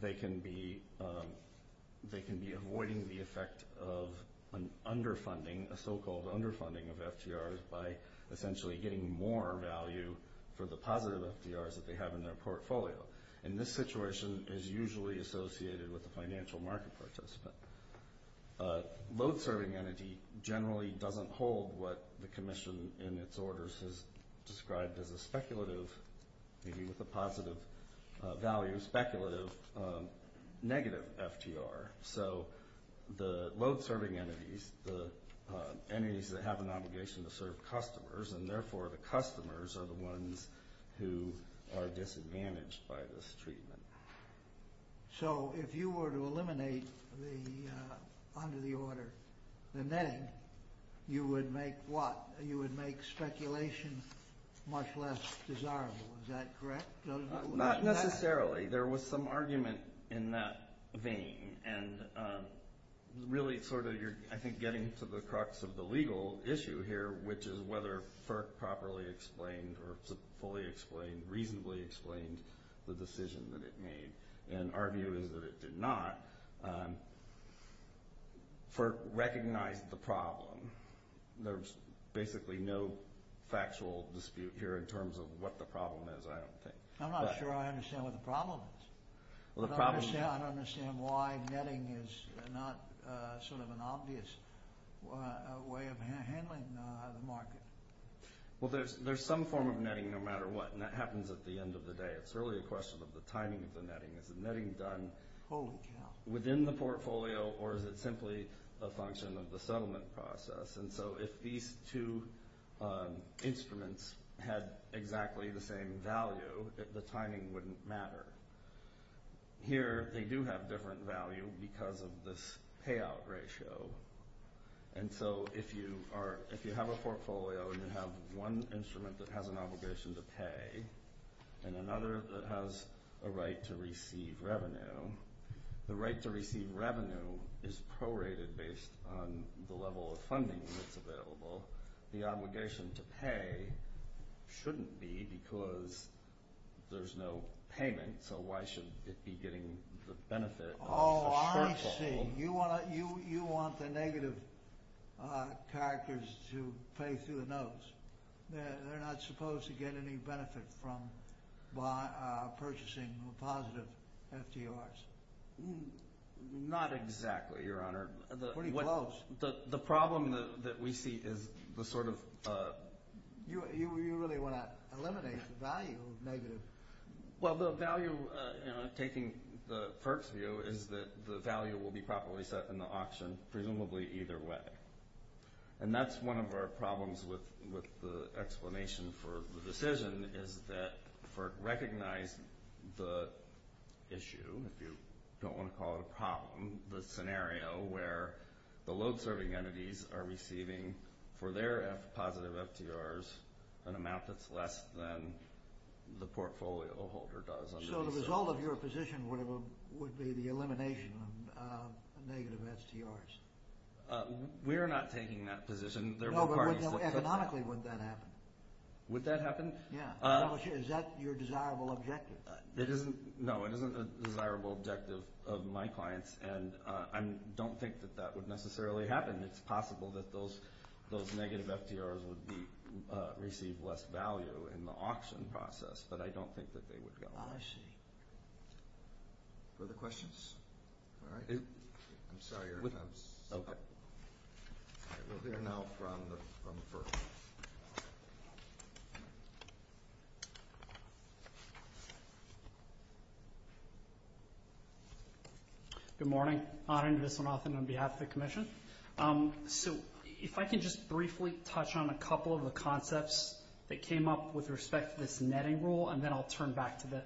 they can be avoiding the effect of an underfunding, a so-called underfunding of FTRs by essentially getting more value for the positive FTRs that they have in their portfolio. And this situation is usually associated with the financial marketplace. A load-serving entity generally doesn't hold what the Commission in its orders has described as a speculative, meaning with a positive value, speculative negative FTR. So the load-serving entities, the entities that have an obligation to serve customers, and therefore the customers are the ones who are disadvantaged by this treatment. So if you were to eliminate under the order the netting, you would make what? You would make speculation much less desirable. Is that correct? Not necessarily. There was some argument in that vein. And really sort of you're, I think, getting to the crux of the legal issue here, which is whether FERC properly explained or fully explained, reasonably explained the decision that it made. And arguing that it did not, FERC recognized the problem. There's basically no factual dispute here in terms of what the problem is, I don't think. I'm not sure I understand what the problem is. I don't understand why netting is not sort of an obvious way of handling the market. Well, there's some form of netting no matter what, and that happens at the end of the day. It's really a question of the timing of the netting. Is the netting done within the portfolio, or is it simply a function of the settlement process? And so if these two instruments had exactly the same value, the timing wouldn't matter. Here they do have different value because of this payout ratio. And so if you have a portfolio and you have one instrument that has an obligation to pay, and another that has a right to receive revenue, the right to receive revenue is prorated based on the level of funding that's available. The obligation to pay shouldn't be because there's no payment, so why should it be getting the benefit? Oh, I see. You want the negative characters to pay through the nose. They're not supposed to get any benefit from purchasing positive FTRs. Not exactly, Your Honor. Pretty close. The problem that we see is the sort of— You really want to eliminate the value of negative. Well, the value, taking the first view, is that the value will be properly set in the auction, presumably either way. And that's one of our problems with the explanation for the decision, is that for recognizing the issue, if you don't want to call it a problem, the scenario where the load-serving entities are receiving, for their positive FTRs, an amount that's less than the portfolio holder does. So the result of your position would be the elimination of negative FTRs. We're not taking that position. No, but economically, would that happen? Would that happen? Yeah. Is that your desirable objective? No, it isn't a desirable objective of my clients, and I don't think that that would necessarily happen. It's possible that those negative FTRs would receive less value in the auction process, but I don't think that they would go. Oh, I see. Further questions? I'm sorry. We'll hear now from the person. Good morning. Anand Viswanathan on behalf of the Commission. So if I could just briefly touch on a couple of the concepts that came up with respect to this netting rule, and then I'll turn back to the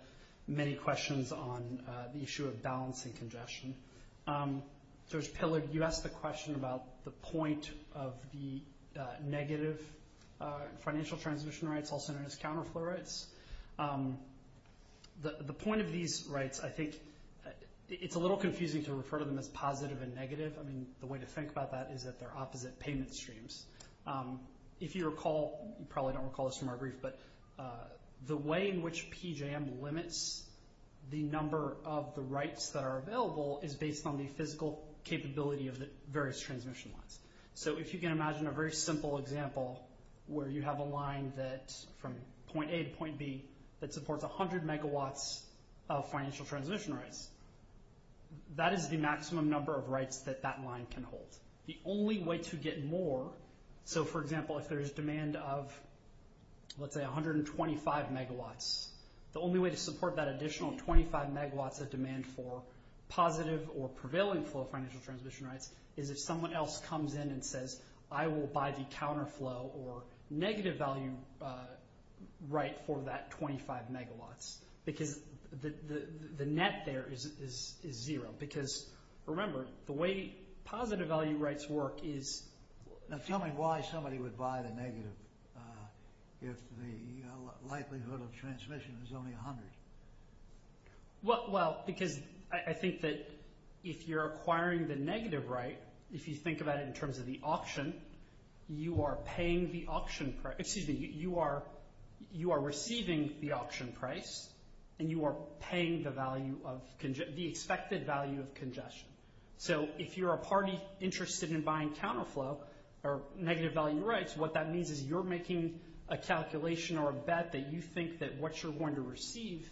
many questions on the issue of balance and congestion. So, Pillard, you asked the question about the point of the negative financial transition rights, also known as counterflow rights. The point of these rights, I think it's a little confusing to refer to them as positive and negative. I mean, the way to think about that is that they're opposite payment streams. If you recall, you probably don't recall this from our brief, but the way in which PJM limits the number of the rights that are available is based on the physical capability of the various transition rights. So if you can imagine a very simple example where you have a line that's from point A to point B that supports 100 megawatts of financial transition rights, that is the maximum number of rights that that line can hold. The only way to get more, so for example, if there is demand of, let's say, 125 megawatts, the only way to support that additional 25 megawatts of demand for positive or prevailing flow of financial transition rights is if someone else comes in and says, I will buy the counterflow or negative value right for that 25 megawatts. The net there is zero because, remember, the way positive value rights work is... Now tell me why somebody would buy the negative if the likelihood of transmission is only 100. Well, because I think that if you're acquiring the negative right, if you think about it in terms of the option, you are receiving the option price and you are paying the expected value of congestion. So if you're a party interested in buying counterflow or negative value rights, what that means is you're making a calculation or a bet that you think that what you're going to receive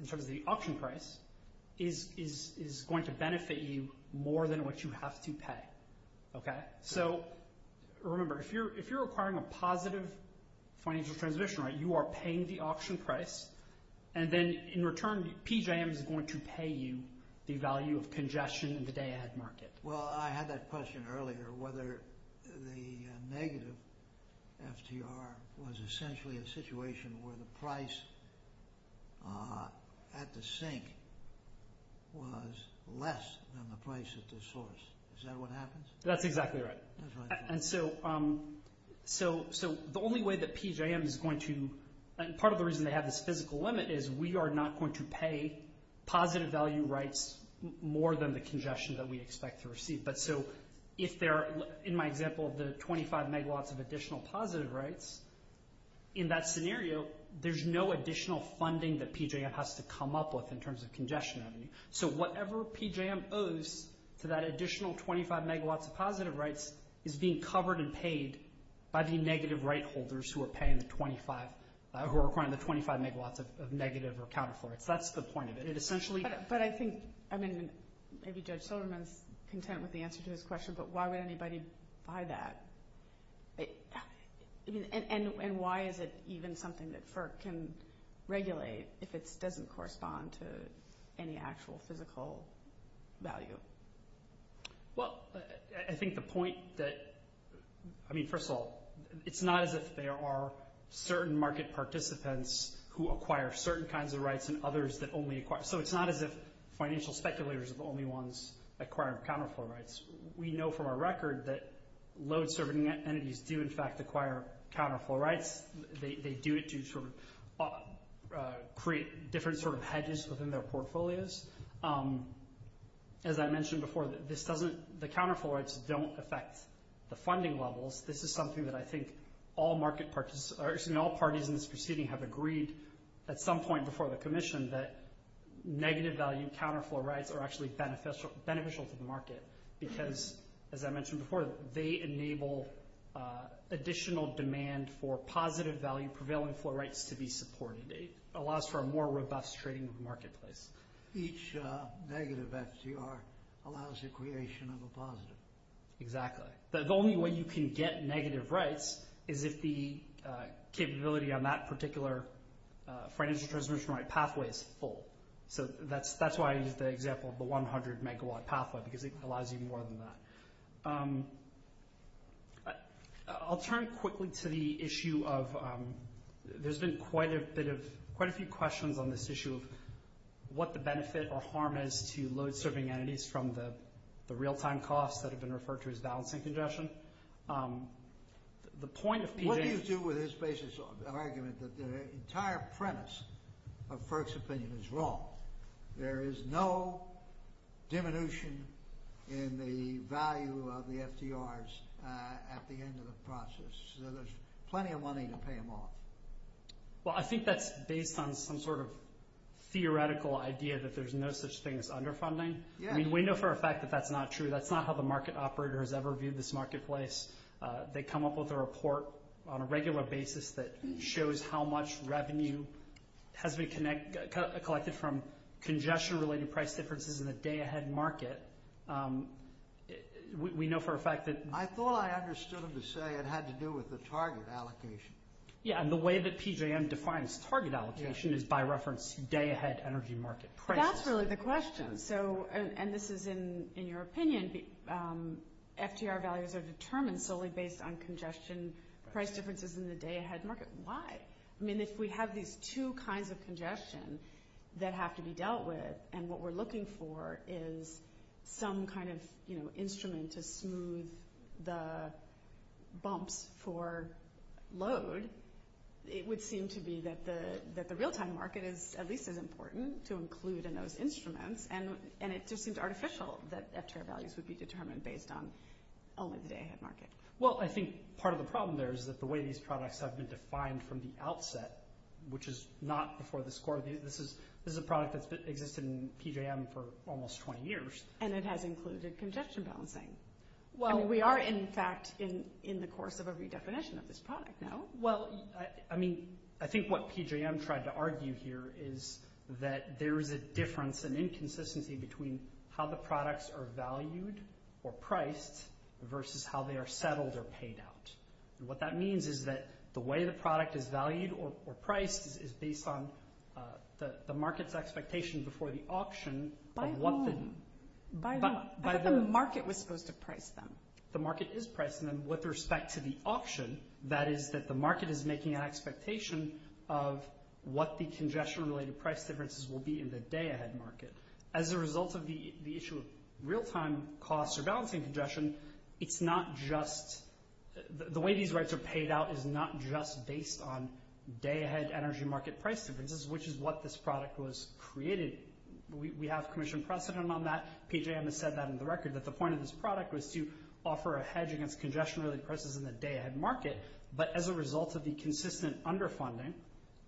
in terms of the option price is going to benefit you more than what you have to pay. So remember, if you're acquiring a positive financial transition right, you are paying the option price, and then in return, PJAMS is going to pay you the value of congestion in today's market. Well, I had that question earlier, whether the negative FTR was essentially a situation where the price at the sink was less than the price at the source. Is that what happens? That's exactly right. And so the only way that PJAMS is going to... And part of the reason they have this physical limit is we are not going to pay positive value rights more than the congestion that we expect to receive. But so if there are, in my example, the 25 megawatts of additional positive rights, in that scenario, there's no additional funding that PJAMS has to come up with in terms of congestion. So whatever PJAMS owes to that additional 25 megawatts of positive rights is being covered and paid by the negative right holders who are paying the 25 megawatts of negative or counterflow. That's the point of it. But I think maybe Judge Sotomayor is content with the answer to his question, but why would anybody buy that? And why is it even something that FERC can regulate if it doesn't correspond to any actual physical value? Well, I think the point that... I mean, first of all, it's not as if there are certain market participants who acquire certain kinds of rights and others that only acquire... So it's not as if financial speculators are the only ones that acquire counterflow rights. We know from our record that load-serving entities do, in fact, acquire counterflow rights. They do it to sort of create different sort of hedges within their portfolios. As I mentioned before, the counterflow rights don't affect the funding levels. This is something that I think all parties in this proceeding have agreed at some point before the commission that negative value counterflow rights are actually beneficial to the market because, as I mentioned before, they enable additional demand for positive value prevailing flow rights to be supported. It allows for a more robust trading marketplace. Each negative FCR allows the creation of a positive. Exactly. The only way you can get negative rights is if the capability on that particular financial transmission right pathway is full. So that's why I used the example of the 100-megawatt pathway because it allows you more than that. I'll turn quickly to the issue of... There's been quite a bit of...quite a few questions on this issue of what the benefit or harm is to load-serving entities from the real-time costs that have been referred to as balancing congestion. What do you do with this basic argument that the entire premise of Kirk's opinion is wrong? There is no diminution in the value of the FCRs at the end of the process. There's plenty of money to pay them off. Well, I think that's based on some sort of theoretical idea that there's no such thing as underfunding. I mean, we know for a fact that that's not true. That's not how the market operator has ever viewed this marketplace. They come up with a report on a regular basis that shows how much revenue has been collected from congestion-related price differences in the day-ahead market. We know for a fact that... I thought I understood him to say it had to do with the target allocation. Yeah, and the way that PJM defines target allocation is by reference day-ahead energy market price. That's really the question. And this is in your opinion. FCR values are determined solely based on congestion price differences in the day-ahead market. Why? I mean, if we have these two kinds of congestion that have to be dealt with, and what we're looking for is some kind of instrument to smooth the bumps for load, it would seem to be that the real-time market is at least as important to include in those instruments. And it just seems artificial that FCR values would be determined based on only the day-ahead market. Well, I think part of the problem there is that the way these products have been defined from the outset, which is not before the score, this is a product that's existed in PJM for almost 20 years. And it has included congestion balancing. Well, we are, in fact, in the course of a redefinition of this product now. Well, I mean, I think what PJM tried to argue here is that there is a difference, an inconsistency between how the products are valued or priced versus how they are settled or paid out. And what that means is that the way the product is valued or priced is based on the market's expectation before the auction. By whom? The market was supposed to price them. The market is pricing them with respect to the auction. That is, that the market is making an expectation of what the congestion-related price differences will be in the day-ahead market. As a result of the issue of real-time cost or balancing congestion, it's not just the way these rights are paid out is not just based on day-ahead energy market price differences, which is what this product was created. We have commissioned precedent on that. PJM has said that on the record. But the point of this product was to offer a hedge against congestion-related prices in the day-ahead market. But as a result of the consistent underfunding,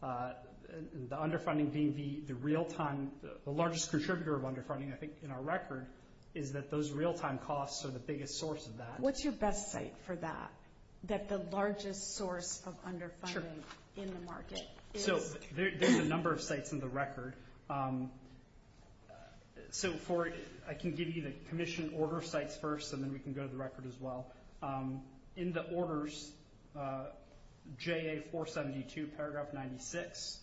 the underfunding being the real-time, the largest contributor of underfunding, I think, in our record, is that those real-time costs are the biggest source of that. What's your best site for that, that the largest source of underfunding in the market? So, there's a number of sites on the record. So, I can give you the commission order site first, and then you can go to the record as well. In the orders, JA-472, paragraph 96,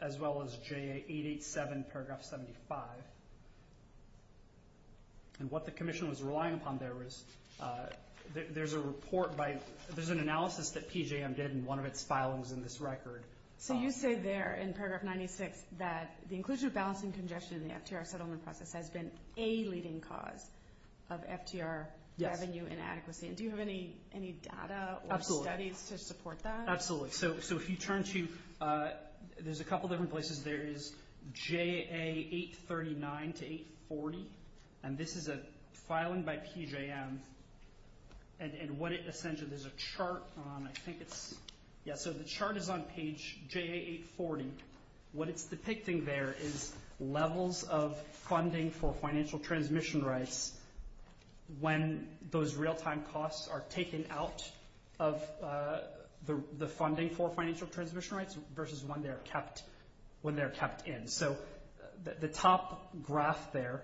as well as JA-887, paragraph 75. And what the commission was relying upon there is there's a report by – there's an analysis that PJM did, and one of its files is in this record. So, you say there in paragraph 96 that the inclusion of balancing congestion in the FTR settlement process has been a leading cause of FTR revenue inadequacy. Do you have any data or studies to support that? Absolutely. So, if you turn to – there's a couple different places. There is JA-839 to 840. And this is a filing by PJM. And what it essentially – there's a chart. Yeah, so the chart is on page JA-840. What it's depicting there is levels of funding for financial transmission rights when those real-time costs are taken out of the funding for financial transmission rights versus when they're kept in. So, the top graph there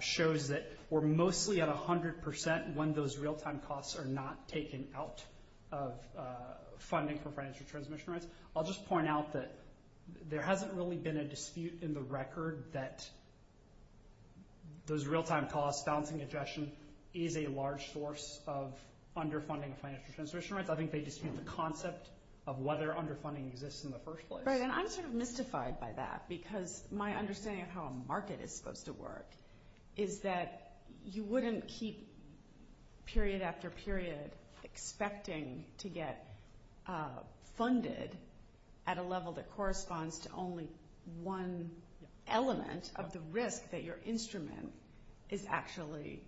shows that we're mostly at 100% when those real-time costs are not taken out of funding for financial transmission rights. I'll just point out that there hasn't really been a dispute in the record that those real-time costs, balancing congestion, is a large source of underfunding financial transmission rights. I think they dispute the concept of whether underfunding exists in the first place. Right, and I'm sort of mystified by that because my understanding of how a market is supposed to work is that you wouldn't keep period after period expecting to get funded at a level that corresponds to only one element of the risk that your instrument is actually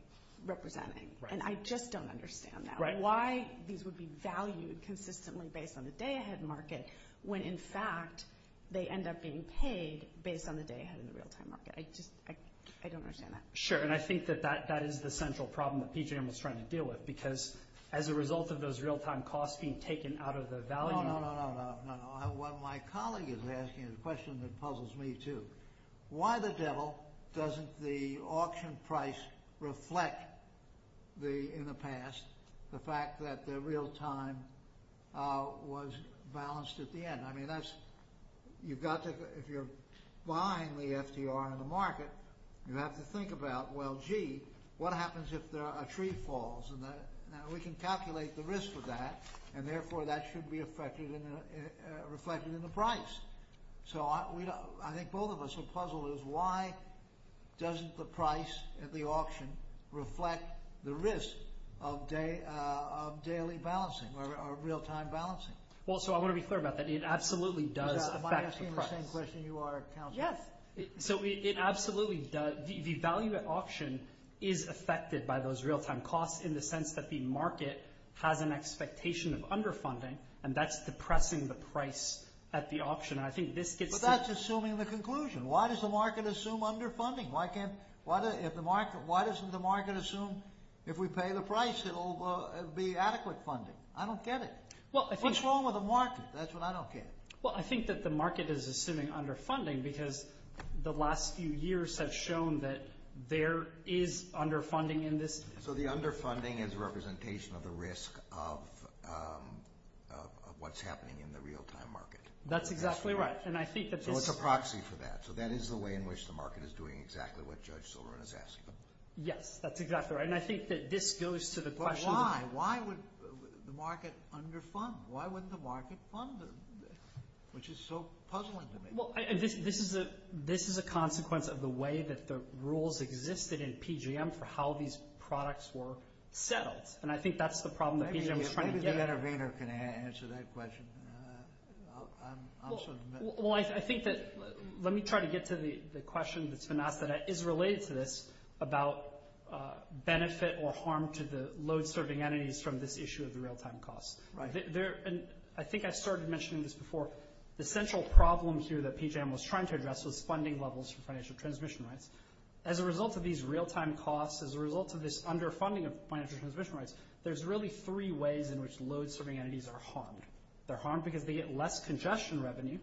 representing. Right. And I just don't understand that. Right. Why these would be valued consistently based on the day-ahead market when, in fact, they end up being paid based on the day-ahead of the real-time market. I just – I don't understand that. Sure, and I think that that is the central problem that PJM is trying to deal with because as a result of those real-time costs being taken out of the value – No, no, no, no, no. What my colleague is asking is a question that puzzles me too. Why the devil doesn't the auction price reflect in the past the fact that the real-time was balanced at the end? I mean, that's – you've got to – if you're buying the FDR in the market, you have to think about, well, gee, what happens if a tree falls? And we can calculate the risk of that, and therefore, that should be reflected in the price. So I think both of us are puzzled as to why doesn't the price at the auction reflect the risk of daily balancing or real-time balancing? Well, so I want to be clear about that. It absolutely does affect the price. Am I asking the same question you are, Councillor? Yes. So it absolutely does. The value at auction is affected by those real-time costs in the sense that the market has an expectation of underfunding, and that's depressing the price at the auction. And I think this gets – But that's assuming the conclusion. Why does the market assume underfunding? Why can't – why doesn't the market assume if we pay the price, it'll be adequate funding? I don't get it. What's wrong with the market? That's what I don't get. Well, I think that the market is assuming underfunding because the last few years have shown that there is underfunding in this. So the underfunding is a representation of the risk of what's happening in the real-time market. That's exactly right. And I think that this – So it's a proxy for that. So that is the way in which the market is doing exactly what Judge Silverman is asking. Yes, that's exactly right. And I think that this goes to the question of – Why wouldn't the market fund them, which is so puzzling to me? Well, this is a consequence of the way that the rules existed in PGM for how these products were settled. And I think that's the problem that PGM is trying to get at. Maybe the intervener can answer that question. I'll sort of – Well, I think that – let me try to get to the question that's not – that is related to this about benefit or harm to the load-serving entities from this issue of the real-time costs. Right. And I think I started mentioning this before. The central problem here that PGM was trying to address was funding levels for financial transmission rates. As a result of these real-time costs, as a result of this underfunding of financial transmission rates, there's really three ways in which load-serving entities are harmed. They're harmed because they get less congestion revenue.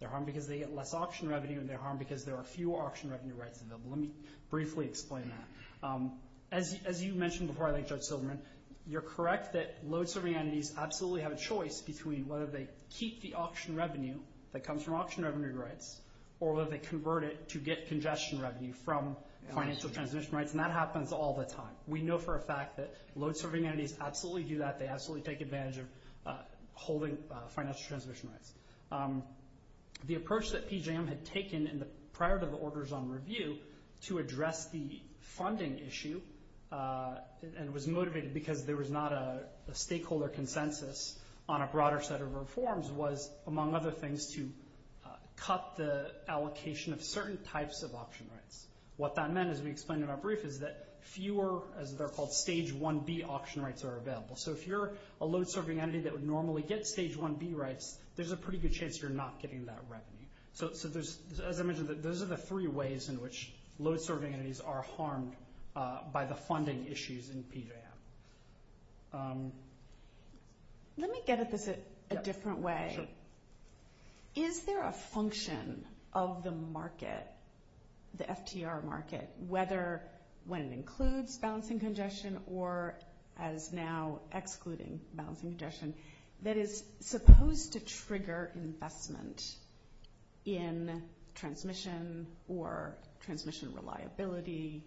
They're harmed because they get less auction revenue. And they're harmed because there are fewer auction revenue rates available. Let me briefly explain that. As you mentioned before, I think, Joe Silverman, you're correct that load-serving entities absolutely have a choice between whether they keep the auction revenue that comes from auction revenue rates or whether they convert it to get congestion revenue from financial transmission rates, and that happens all the time. We know for a fact that load-serving entities absolutely do that. They absolutely take advantage of holding financial transmission rates. The approach that PGM had taken prior to the Orders on Review to address the funding issue and was motivated because there was not a stakeholder consensus on a broader set of reforms was, among other things, to cut the allocation of certain types of auction rates. What that meant, as we explained in our brief, is that fewer, as they're called, Stage 1B auction rates are available. So if you're a load-serving entity that would normally get Stage 1B rates, there's a pretty good chance you're not getting that revenue. So, as I mentioned, those are the three ways in which load-serving entities are harmed by the funding issues in PGM. Let me get at this a different way. Is there a function of the market, the FTR market, whether one includes balancing congestion or is now excluding balancing congestion, that is supposed to trigger investment in transmission or transmission reliability,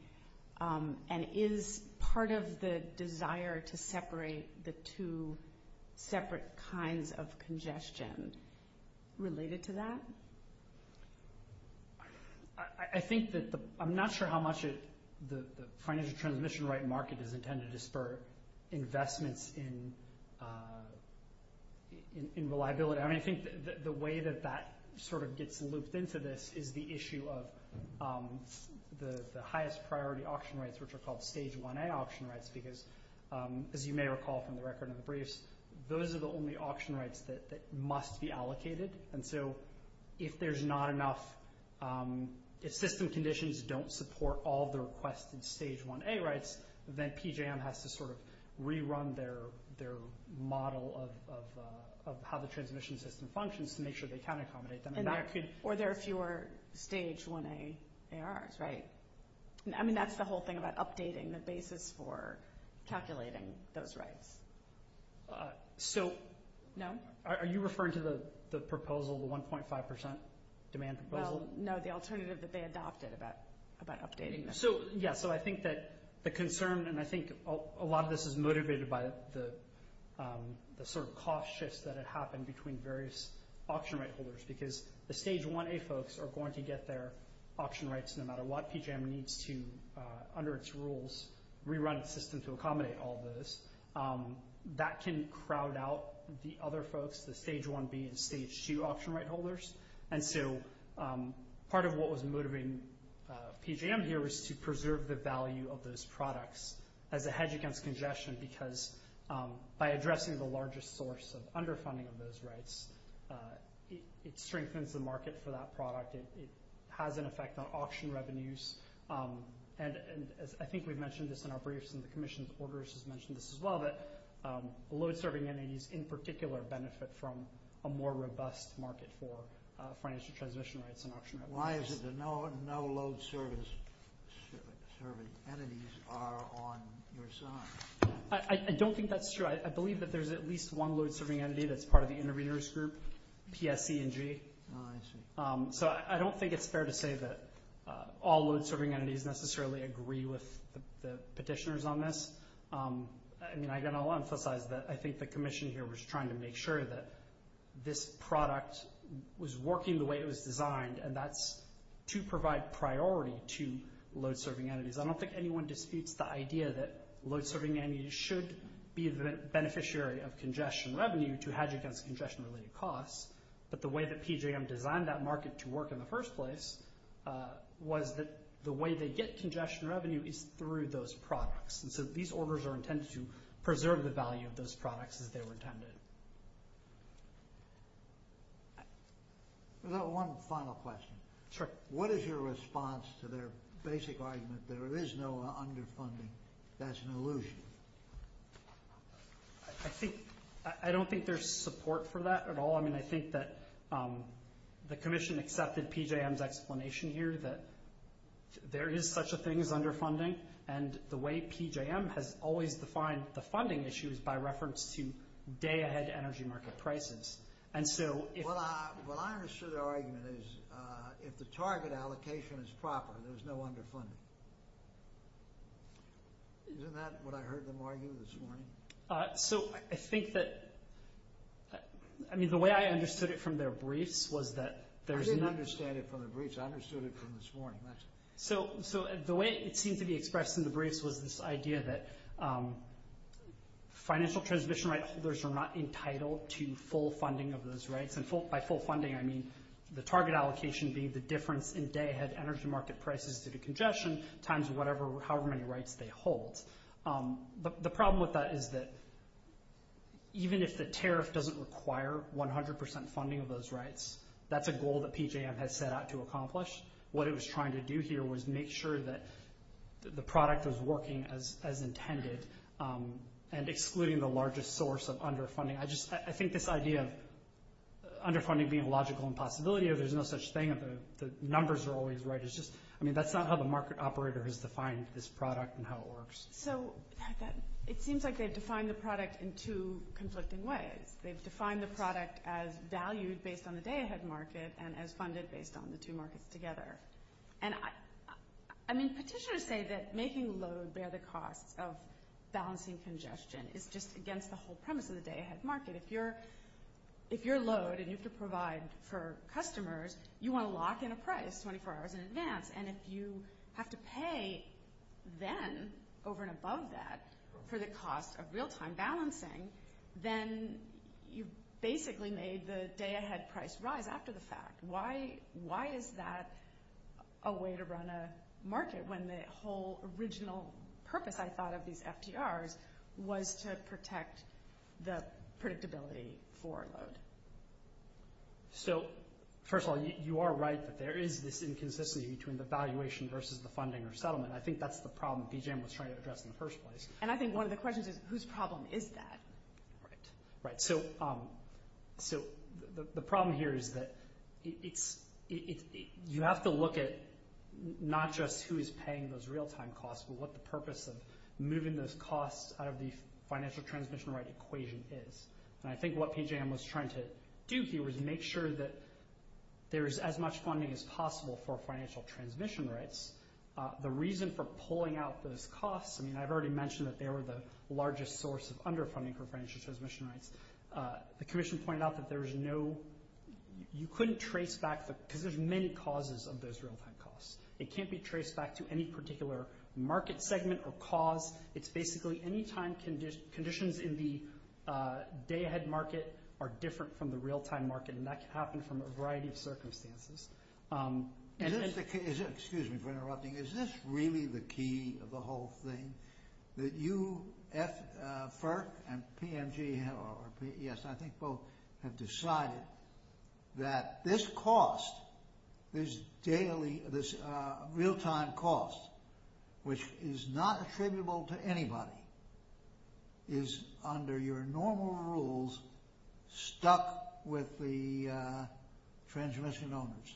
and is part of the desire to separate the two separate kinds of congestion related to that? I'm not sure how much the financial transmission rate market is intended to spur investments in reliability. I think the way that that sort of gets looped into this is the issue of the highest priority auction rates, which are called Stage 1A auction rates, because, as you may recall from the record in the briefs, those are the only auction rates that must be allocated. And so if there's not enough – if system conditions don't support all the requests of Stage 1A rates, then PGM has to sort of rerun their model of how the transmission system functions to make sure they can accommodate them. Or there are fewer Stage 1A ARs, right? I mean, that's the whole thing about updating the basis for calculating those rates. So are you referring to the proposal, the 1.5 percent demand proposal? No, the alternative that they adopted about updating this. Yeah, so I think that the concern – and I think a lot of this is motivated by the sort of cost shifts that have happened between various auction rate holders, because the Stage 1A folks are going to get their auction rates no matter what. PGM needs to, under its rules, rerun its system to accommodate all those. That can crowd out the other folks, the Stage 1B and Stage 2 auction rate holders. And so part of what was motivating PGM here was to preserve the value of those products as a hedge against congestion, because by addressing the largest source of underfunding of those rates, it strengthens the market for that product. It has an effect on auction revenues. And I think we've mentioned this in our briefs, and the Commission of Orders has mentioned this as well, that load-serving entities in particular benefit from a more robust market for financial transition rates and auction revenues. Why is it that no load-serving entities are on your side? I don't think that's true. I believe that there's at least one load-serving entity that's part of the interveners group, TSE&G. Oh, I see. So I don't think it's fair to say that all load-serving entities necessarily agree with the petitioners on this. And I'm going to emphasize that I think the Commission here was trying to make sure that this product was working the way it was designed, and that's to provide priority to load-serving entities. I don't think anyone disputes the idea that load-serving entities should be the beneficiary of congestion revenue to hedge against congestion-related costs. But the way that PJM designed that market to work in the first place was that the way they get congestion revenue is through those products. And so these orders are intended to preserve the value of those products as they were intended. One final question. Sure. What is your response to their basic argument that there is no underfunding? That's an illusion. I don't think there's support for that at all. I mean, I think that the Commission accepted PJM's explanation here that there is such a thing as underfunding, and the way PJM has always defined the funding issue is by reference to day-ahead energy market prices. And so if the target allocation is proper, there's no underfunding. Isn't that what I heard them argue this morning? So I think that – I mean, the way I understood it from their briefs was that there's – I didn't understand it from the briefs. I understood it from this morning. So the way it seems to be expressed in the briefs was this idea that financial transmission rights holders are not entitled to full funding of those rights. And by full funding, I mean the target allocation being the difference in day-ahead energy market prices due to congestion times however many rights they hold. But the problem with that is that even if the tariff doesn't require 100% funding of those rights, that's a goal that PJM has set out to accomplish. What it was trying to do here was make sure that the product was working as intended and excluding the largest source of underfunding. I just – I think this idea of underfunding being a logical impossibility, the numbers are always right. It's just – I mean, that's not how the market operator has defined this product and how it works. So it seems like they've defined the product in two conflicting ways. They've defined the product as valued based on the day-ahead market and as funded based on the two markets together. And I mean, petitioners say that making load bear the cost of balancing congestion is just against the whole premise of the day-ahead market. If you're load and you could provide for customers, you want to lock in a price 24 hours in advance. And if you have to pay then over and above that for the cost of real-time balancing, then you've basically made the day-ahead price rise after the fact. Why is that a way to run a market when the whole original purpose, I thought, of these FDRs was to protect the predictability for load? So, first of all, you are right that there is this inconsistency between the valuation versus the funding or settlement. I think that's the problem BGM was trying to address in the first place. And I think one of the questions is whose problem is that? Right. So, the problem here is that you have to look at not just who is paying those real-time costs but what the purpose of moving those costs out of the financial transmission rate equation is. And I think what BGM was trying to do here was make sure that there is as much funding as possible for financial transmission rates. The reason for pulling out those costs, I mean, I've already mentioned that they were the largest source of underfunding for financial transmission rates. The commission pointed out that there is no – you couldn't trace back because there's many causes of those real-time costs. It can't be traced back to any particular market segment or cause. It's basically any time conditions in the day-ahead market are different from the real-time market, and that can happen from a variety of circumstances. Excuse me for interrupting. Is this really the key of the whole thing? That you at FERC and PNG – yes, I think both – have decided that this cost, this daily, this real-time cost, which is not attributable to anybody, is under your normal rules stuck with the transmission owners.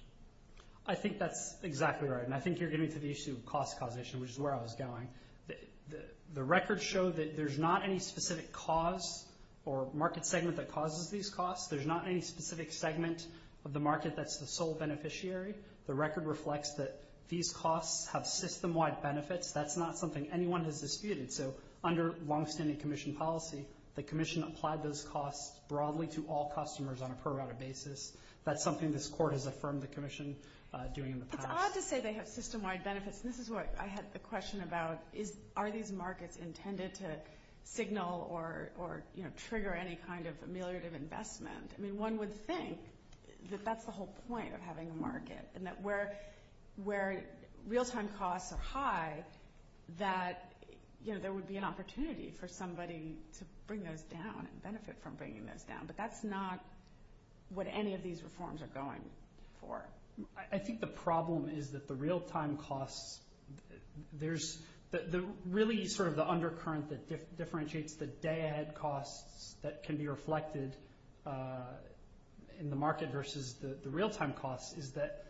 I think that's exactly right, and I think you're getting to the issue of cost causation, which is where I was going. The records show that there's not any specific cause or market segment that causes these costs. There's not any specific segment of the market that's the sole beneficiary. The record reflects that these costs have system-wide benefits. That's not something anyone has disputed. So under longstanding commission policy, the commission applied those costs broadly to all customers on a pro-rata basis. That's something this court has affirmed the commission doing in the past. It's odd to say they have system-wide benefits. This is what I had the question about. Are these markets intended to signal or trigger any kind of ameliorative investment? I mean, one would think that that's the whole point of having a market, and that where real-time costs are high, that there would be an opportunity for somebody to bring those down and benefit from bringing those down, but that's not what any of these reforms are going for. I think the problem is that the real-time costs – really sort of the undercurrent that differentiates the bad costs that can be reflected in the market versus the real-time costs is that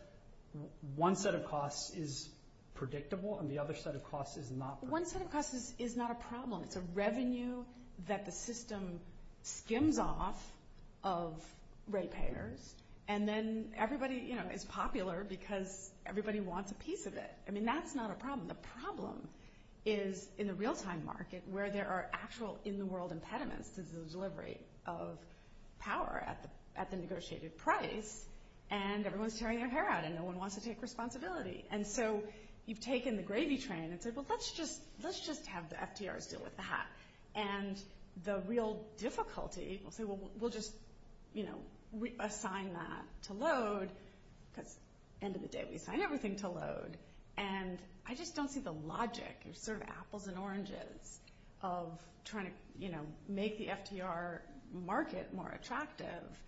one set of costs is predictable and the other set of costs is not predictable. One set of costs is not a problem. It's a revenue that the system skims off of ratepayers, and then everybody is popular because everybody wants a piece of it. I mean, that's not a problem. The problem is in a real-time market where there are actual in-the-world impediments to the delivery of power at the negotiated price, and everyone is tearing their hair out, and no one wants to take responsibility. And so you've taken the gravy train and said, well, let's just have the FDRs deal with that. And the real difficulty – we'll just assign that to load. At the end of the day, we assign everything to load, and I just don't see the logic. There's sort of apples and oranges of trying to make the FDR market more attractive,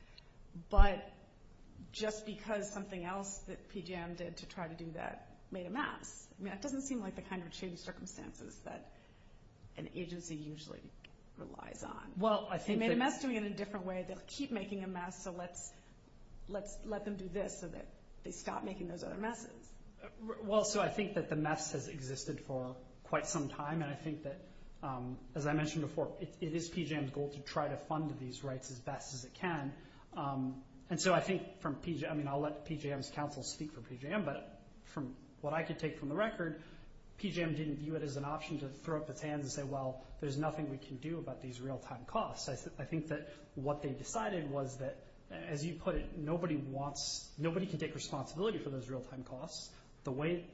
but just because something else that PGM did to try to do that made a mess. I mean, that doesn't seem like the kind of change of circumstances that an agency usually relies on. Well, I think that – They made a mess to me in a different way. They'll keep making a mess, so let's let them do this so that they stop making those other messes. Well, so I think that the mess has existed for quite some time, and I think that, as I mentioned before, it is PGM's goal to try to fund these rights as best as it can. And so I think from – I mean, I'll let PGM's counsel speak for PGM, but from what I could take from the record, PGM didn't view it as an option to throw up its hand and say, well, there's nothing we can do about these real-time costs. I think that what they decided was that, as you put it, nobody wants – nobody can take responsibility for those real-time costs. The way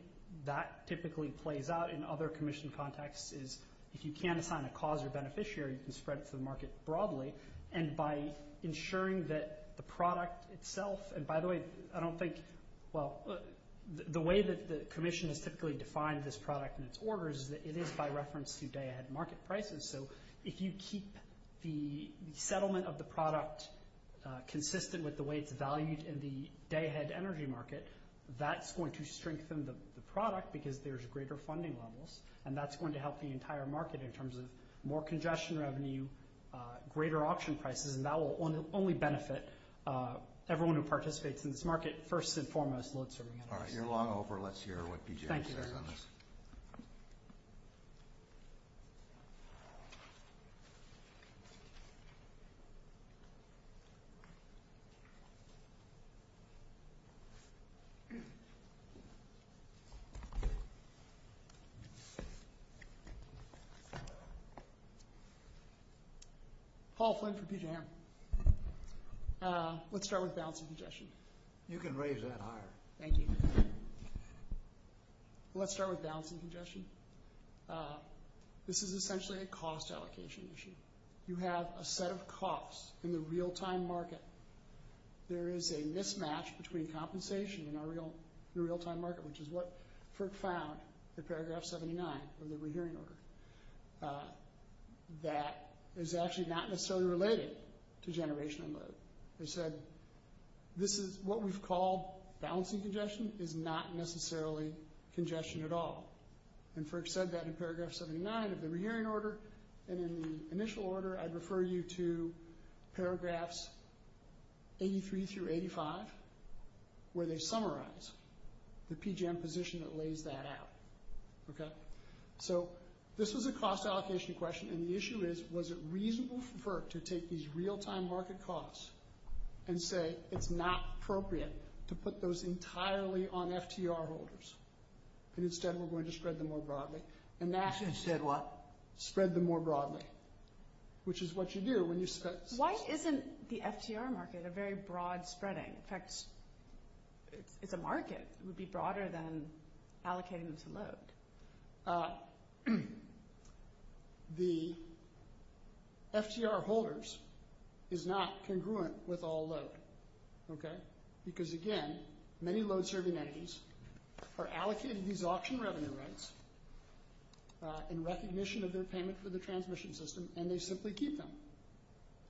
that typically plays out in other commission contexts is if you can't assign a cause or beneficiary, you can spread it to the market broadly. And by ensuring that the product itself – and by the way, I don't think – well, the way that the commission has typically defined this product and its orders is that it is by reference to day-ahead market prices. So if you keep the settlement of the product consistent with the way it's valued in the day-ahead energy market, that's going to strengthen the product because there's greater funding levels, and that's going to help the entire market in terms of more congestion revenue, greater option prices, and that will only benefit everyone who participates in this market first and foremost. All right. You're long over. Let's hear what PGM says on this. Thank you. Paul Flynn for PGM. Let's start with balancing congestion. You can raise that higher. Thank you. Let's start with balancing congestion. This is essentially a cost allocation issue. You have a set of costs in the real-time market. There is a mismatch between compensation and the real-time market, which is what FERC found in paragraph 79 of the rehearing order. That is actually not necessarily related to generational load. They said this is – what we've called balancing congestion is not necessarily congestion at all. And FERC said that in paragraph 79 of the rehearing order, and in the initial order I refer you to paragraphs 83 through 85, where they summarize the PGM position that lays that out. Okay? So this was a cost allocation question, and the issue is was it reasonable for FERC to take these real-time market costs and say it's not appropriate to put those entirely on FTR holders, and instead we're going to spread them more broadly. And NASA said what? Spread them more broadly, which is what you do when you – Why isn't the FCR market a very broad spreading? In fact, if the market would be broader than allocating this load. The FCR holders is not congruent with all load. Okay? In recognition of their payment for the transmission system, and they simply keep them.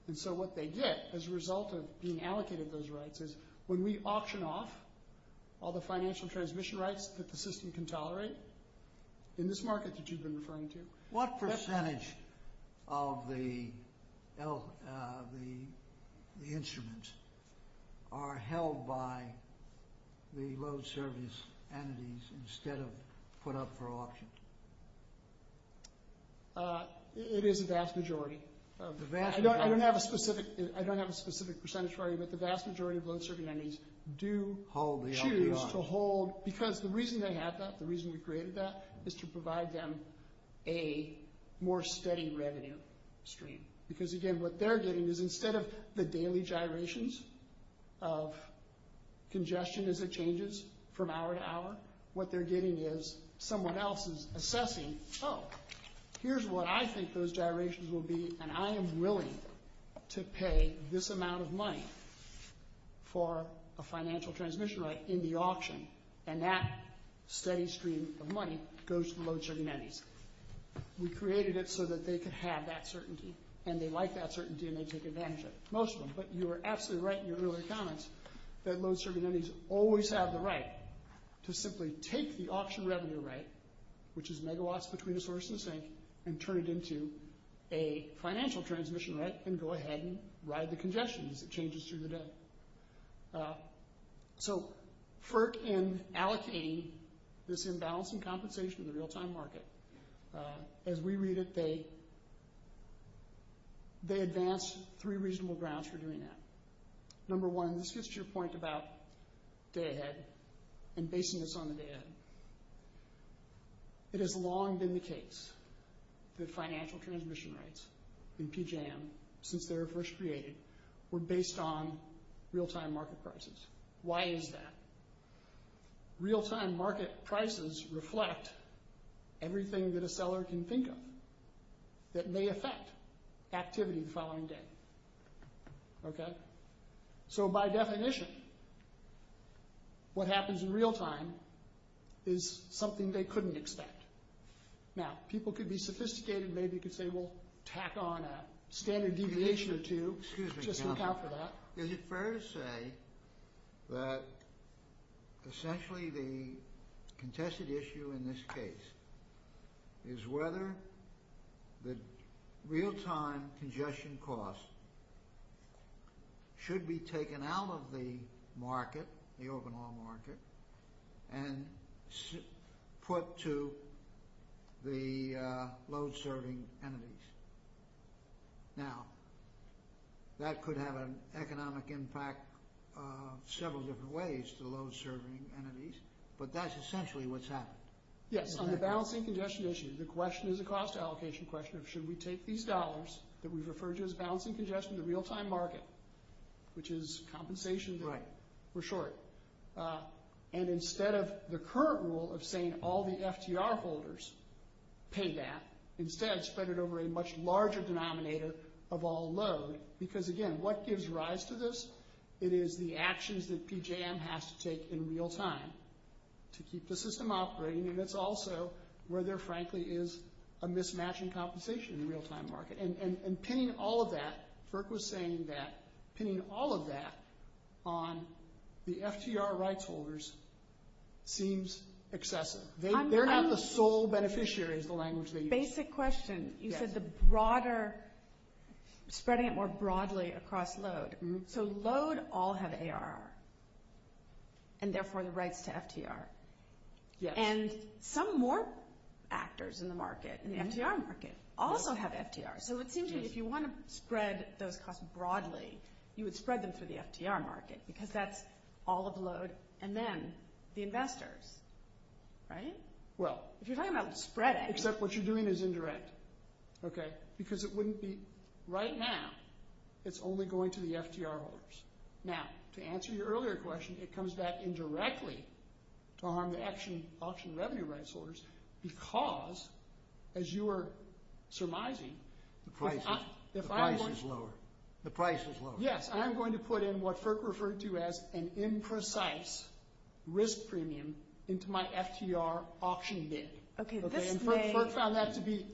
And so what they get as a result of being allocated those rights is when we auction off all the financial transmission rights that the system can tolerate, in this market that you've been referring to – What percentage of the instruments are held by the load service entities instead of put up for auction? It is the vast majority. I don't have a specific percentage for you, but the vast majority of load service entities do choose to hold – because the reason they have that, the reason you created that, is to provide them a more steady revenue stream. Because again, what they're getting is instead of the daily gyrations of congestion as it changes from hour to hour, what they're getting is someone else is assessing, oh, here's what I think those gyrations will be, and I am willing to pay this amount of money for a financial transmission right in the auction. And that steady stream of money goes to the load service entities. We created it so that they could have that certainty, and they like that certainty, and they take advantage of it, mostly. But you were absolutely right in your earlier comments that load service entities always have the right to simply take the auction revenue right, which is megawatts between sources, and turn it into a financial transmission right, and go ahead and ride the congestion as it changes through the day. So FERC, in allocating this imbalance in compensation in the real-time market, as we read it, they advanced three reasonable grounds for doing that. Number one, this gets to your point about day ahead and basing this on the day ahead. It has long been the case that financial transmission rights in PJM, since they were first created, were based on real-time market prices. Why is that? Real-time market prices reflect everything that a seller can think of that may affect activity the following day. Okay? So by definition, what happens in real-time is something they couldn't expect. Now, people could be sophisticated and maybe could say, well, tack on a standard deviation or two, just to account for that. Is it fair to say that essentially the contested issue in this case is whether the real-time congestion costs should be taken out of the market, the overall market, and put to the load-serving entities? Now, that could have an economic impact in several different ways to load-serving entities, but that's essentially what's happening. Yes, on the balancing congestion issue, the question is a cost allocation question of should we take these dollars that we refer to as balancing congestion in the real-time market, which is compensation time for short, and instead of the current rule of saying all the FTR holders pay that, instead spread it over a much larger denominator of all load, because, again, what gives rise to this? It is the actions that PJM has to take in real-time to keep the system operating, and that's also where there, frankly, is a mismatching compensation in the real-time market. And pinning all of that, Burke was saying that pinning all of that on the FTR rights holders seems excessive. They're not the sole beneficiary of the language that you use. Basic question. You said the broader, spreading it more broadly across load. So load all have AR, and therefore the rights to FTR. And some more actors in the market, in the FTR market, also have FTR. So it seems that if you want to spread the cost broadly, you would spread them for the FTR market, because that's all of load and then the investors, right? If you're talking about spreading. Except what you're doing is indirect, okay, because it wouldn't be right now. It's only going to the FTR holders. Now, to answer your earlier question, it comes back indirectly to harm the FTR revenue rights holders because, as you are surmising. The price is lower. The price is lower. Yes, and I'm going to put in what Burke referred to as an imprecise risk premium into my FTR auctioning bid. Okay. And Burke found that to be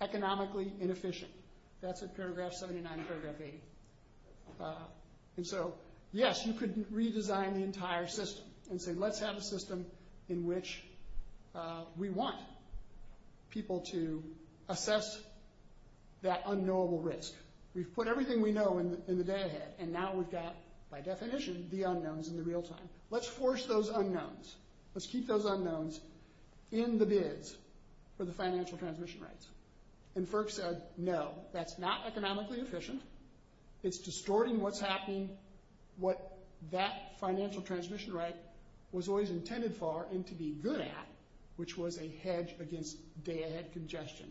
economically inefficient. That's at paragraph 79 and paragraph 80. And so, yes, you could redesign the entire system and say, let's have a system in which we want people to assess that unknowable risk. We've put everything we know in the day ahead, and now we've got, by definition, the unknowns in the real time. Let's force those unknowns. Let's keep those unknowns in the bids for the financial transmission rights. And Burke said, no, that's not economically efficient. It's distorting what's happening, what that financial transmission right was always intended for and to be good at, which was a hedge against day ahead congestion.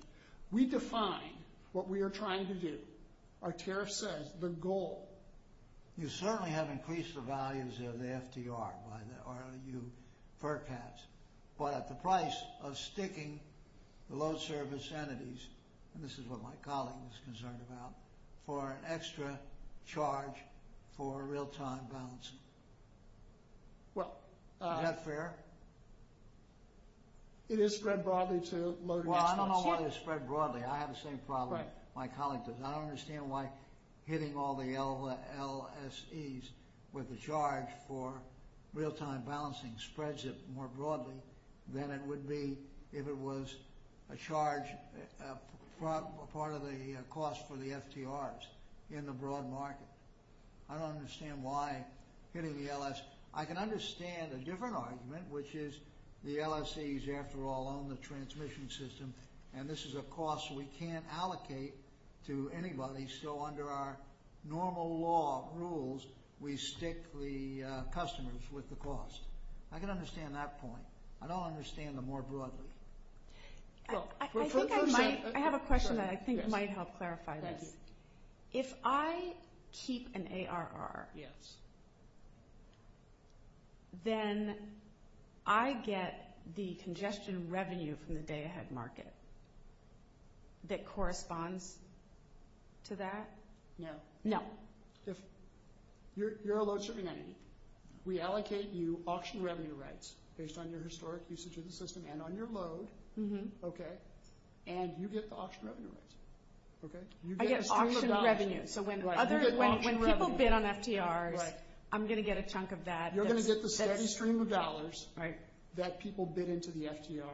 We've defined what we are trying to do. Our tariff says the goal. You certainly have increased the values of the FTR, or you, Burke has, by the price of sticking the load service entities, and this is what my colleague was concerned about, for an extra charge for real time balancing. Is that fair? It is spread broadly to load service entities. Well, I don't know why it's spread broadly. I have the same problem my colleague does. I don't understand why hitting all the LSEs with a charge for real time balancing spreads it more broadly than it would be if it was a charge, part of the cost for the FTRs in the broad market. I don't understand why hitting the LSEs. I can understand a different argument, which is the LSEs, after all, on the transmission system, and this is a cost we can't allocate to anybody, so under our normal law rules, we stick the customers with the cost. I can understand that point. I don't understand it more broadly. I have a question that I think might help clarify this. If I keep an ARR, then I get the congestion revenue from the data head market that corresponds to that? No. No. You're a load service entity. We allocate you auction revenue rates based on your historic usage of the system and on your load, okay, and you get the auction revenue rates, okay? I get auction revenue, so when people bid on FTRs, I'm going to get a chunk of that. You're going to get the steady stream of dollars that people bid into the FTR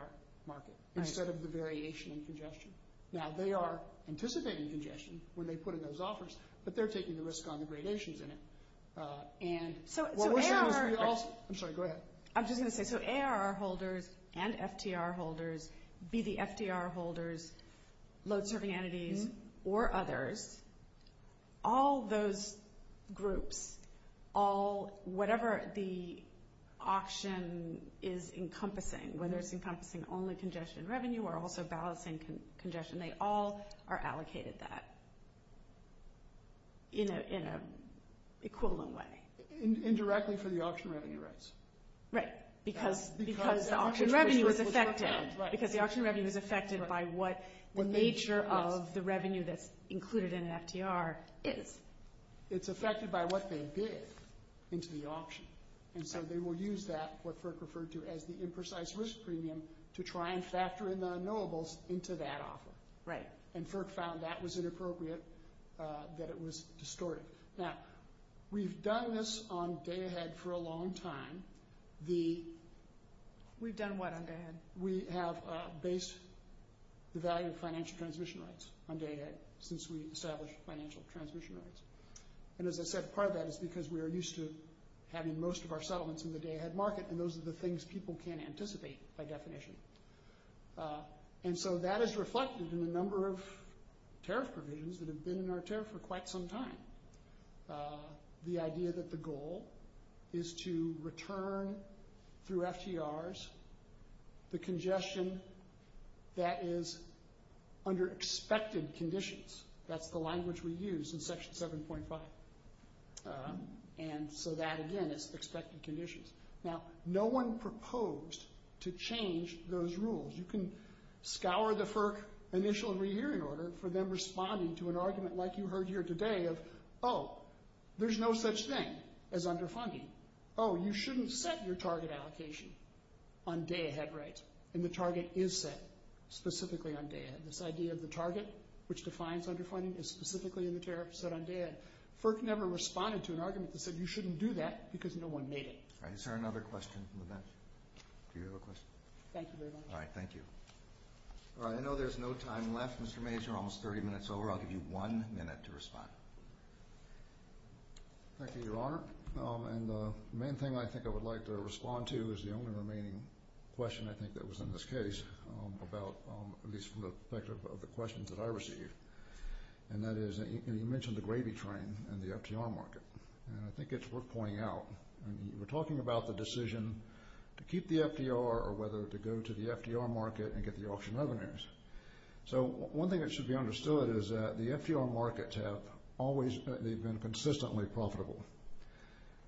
market instead of the variation in congestion. Now, they are anticipating congestion when they put in those offers, but they're taking the risk on the gradations in it. I'm sorry, go ahead. I'm just going to say, so ARR holders and FTR holders, be the FTR holders, load serving entities, or others, all those groups, whatever the auction is encompassing, whether it's encompassing only congestion revenue or also balancing congestion, they all are allocated that in an equivalent way. Indirectly for the auction revenue rates. Right, because the auction revenue is affected. Because the auction revenue is affected by what the nature of the revenue that's included in an FTR is. It's affected by what they bid into the auction, and so they will use that, what Firk referred to as the imprecise risk premium, to try and factor in the unknowables into that offer. Right. And Firk found that was inappropriate, that it was distorted. Now, we've done this on Day Ahead for a long time. We've done what on Day Ahead? We have based the value of financial transmission rates on Day Ahead since we established financial transmission rates. And as I said, part of that is because we are used to having most of our settlements in the Day Ahead market, and those are the things people can't anticipate by definition. And so that is reflected in a number of tariff provisions that have been in our tariff for quite some time. The idea that the goal is to return through FTRs the congestion that is under expected conditions. That's the language we use in Section 7.5. And so that, again, is expected conditions. Now, no one proposed to change those rules. You can scour the Firk initial review order for them responding to an argument like you heard here today of, oh, there's no such thing as underfunding. Oh, you shouldn't set your target allocation on Day Ahead rates. And the target is set specifically on Day Ahead. This idea of the target, which defines underfunding, is specifically in the tariff set on Day Ahead. Firk never responded to an argument that said you shouldn't do that because no one made it. All right, is there another question from the bench? Do you have a question? Thank you very much. All right, thank you. All right, I know there's no time left, Mr. Major. Almost 30 minutes over. I'll give you one minute to respond. Thank you, Your Honor. And the main thing I think I would like to respond to is the only remaining question I think that was in this case, at least from the perspective of the questions that I received. And that is, you mentioned the gravy train in the FDR market. And I think it's worth pointing out, we're talking about the decision to keep the FDR or whether to go to the FDR market and get the auction revenues. So one thing that should be understood is that the FDR markets have always been consistently profitable.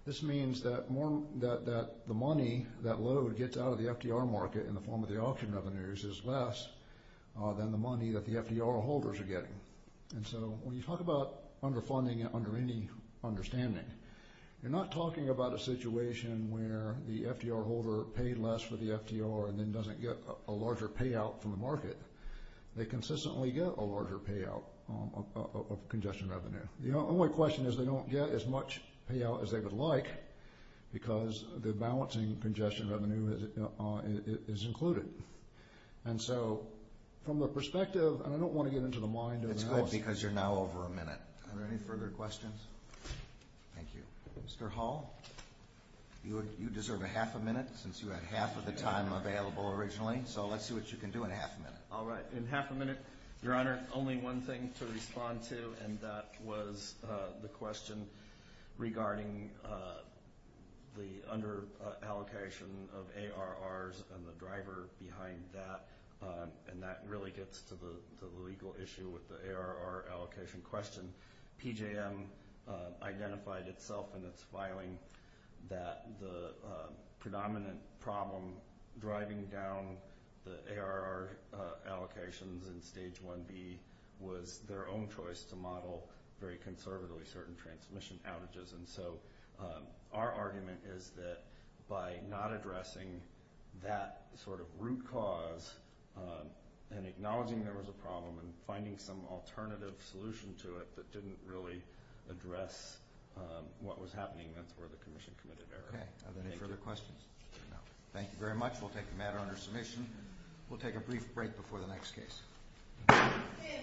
This means that the money that Lowe would get out of the FDR market in the form of the auction revenues is less than the money that the FDR holders are getting. And so when you talk about underfunding under any understanding, you're not talking about a situation where the FDR holder paid less for the FDR and then doesn't get a larger payout from the market. They consistently get a larger payout of congestion revenue. The only question is they don't get as much payout as they would like because the balancing congestion revenue is included. And so from the perspective, and I don't want to get into the mind of the host. That's good because you're now over a minute. Are there any further questions? Thank you. Mr. Hall, you deserve a half a minute since you had half of the time available originally. So let's see what you can do in a half a minute. All right. In half a minute, Your Honor, only one thing to respond to, and that was the question regarding the underallocation of ARRs and the driver behind that. And that really gets to the legal issue with the ARR allocation question. PJM identified itself in its filing that the predominant problem driving down the ARR allocations in Stage 1B was their own choice to model very conservatively certain transmission averages. And so our argument is that by not addressing that sort of root cause and acknowledging there was a problem and finding some alternative solution to it that didn't really address what was happening before the Commission committed ARR. Okay. Are there any further questions? No. Thank you very much. We'll take the matter under submission. We'll take a brief break before the next case.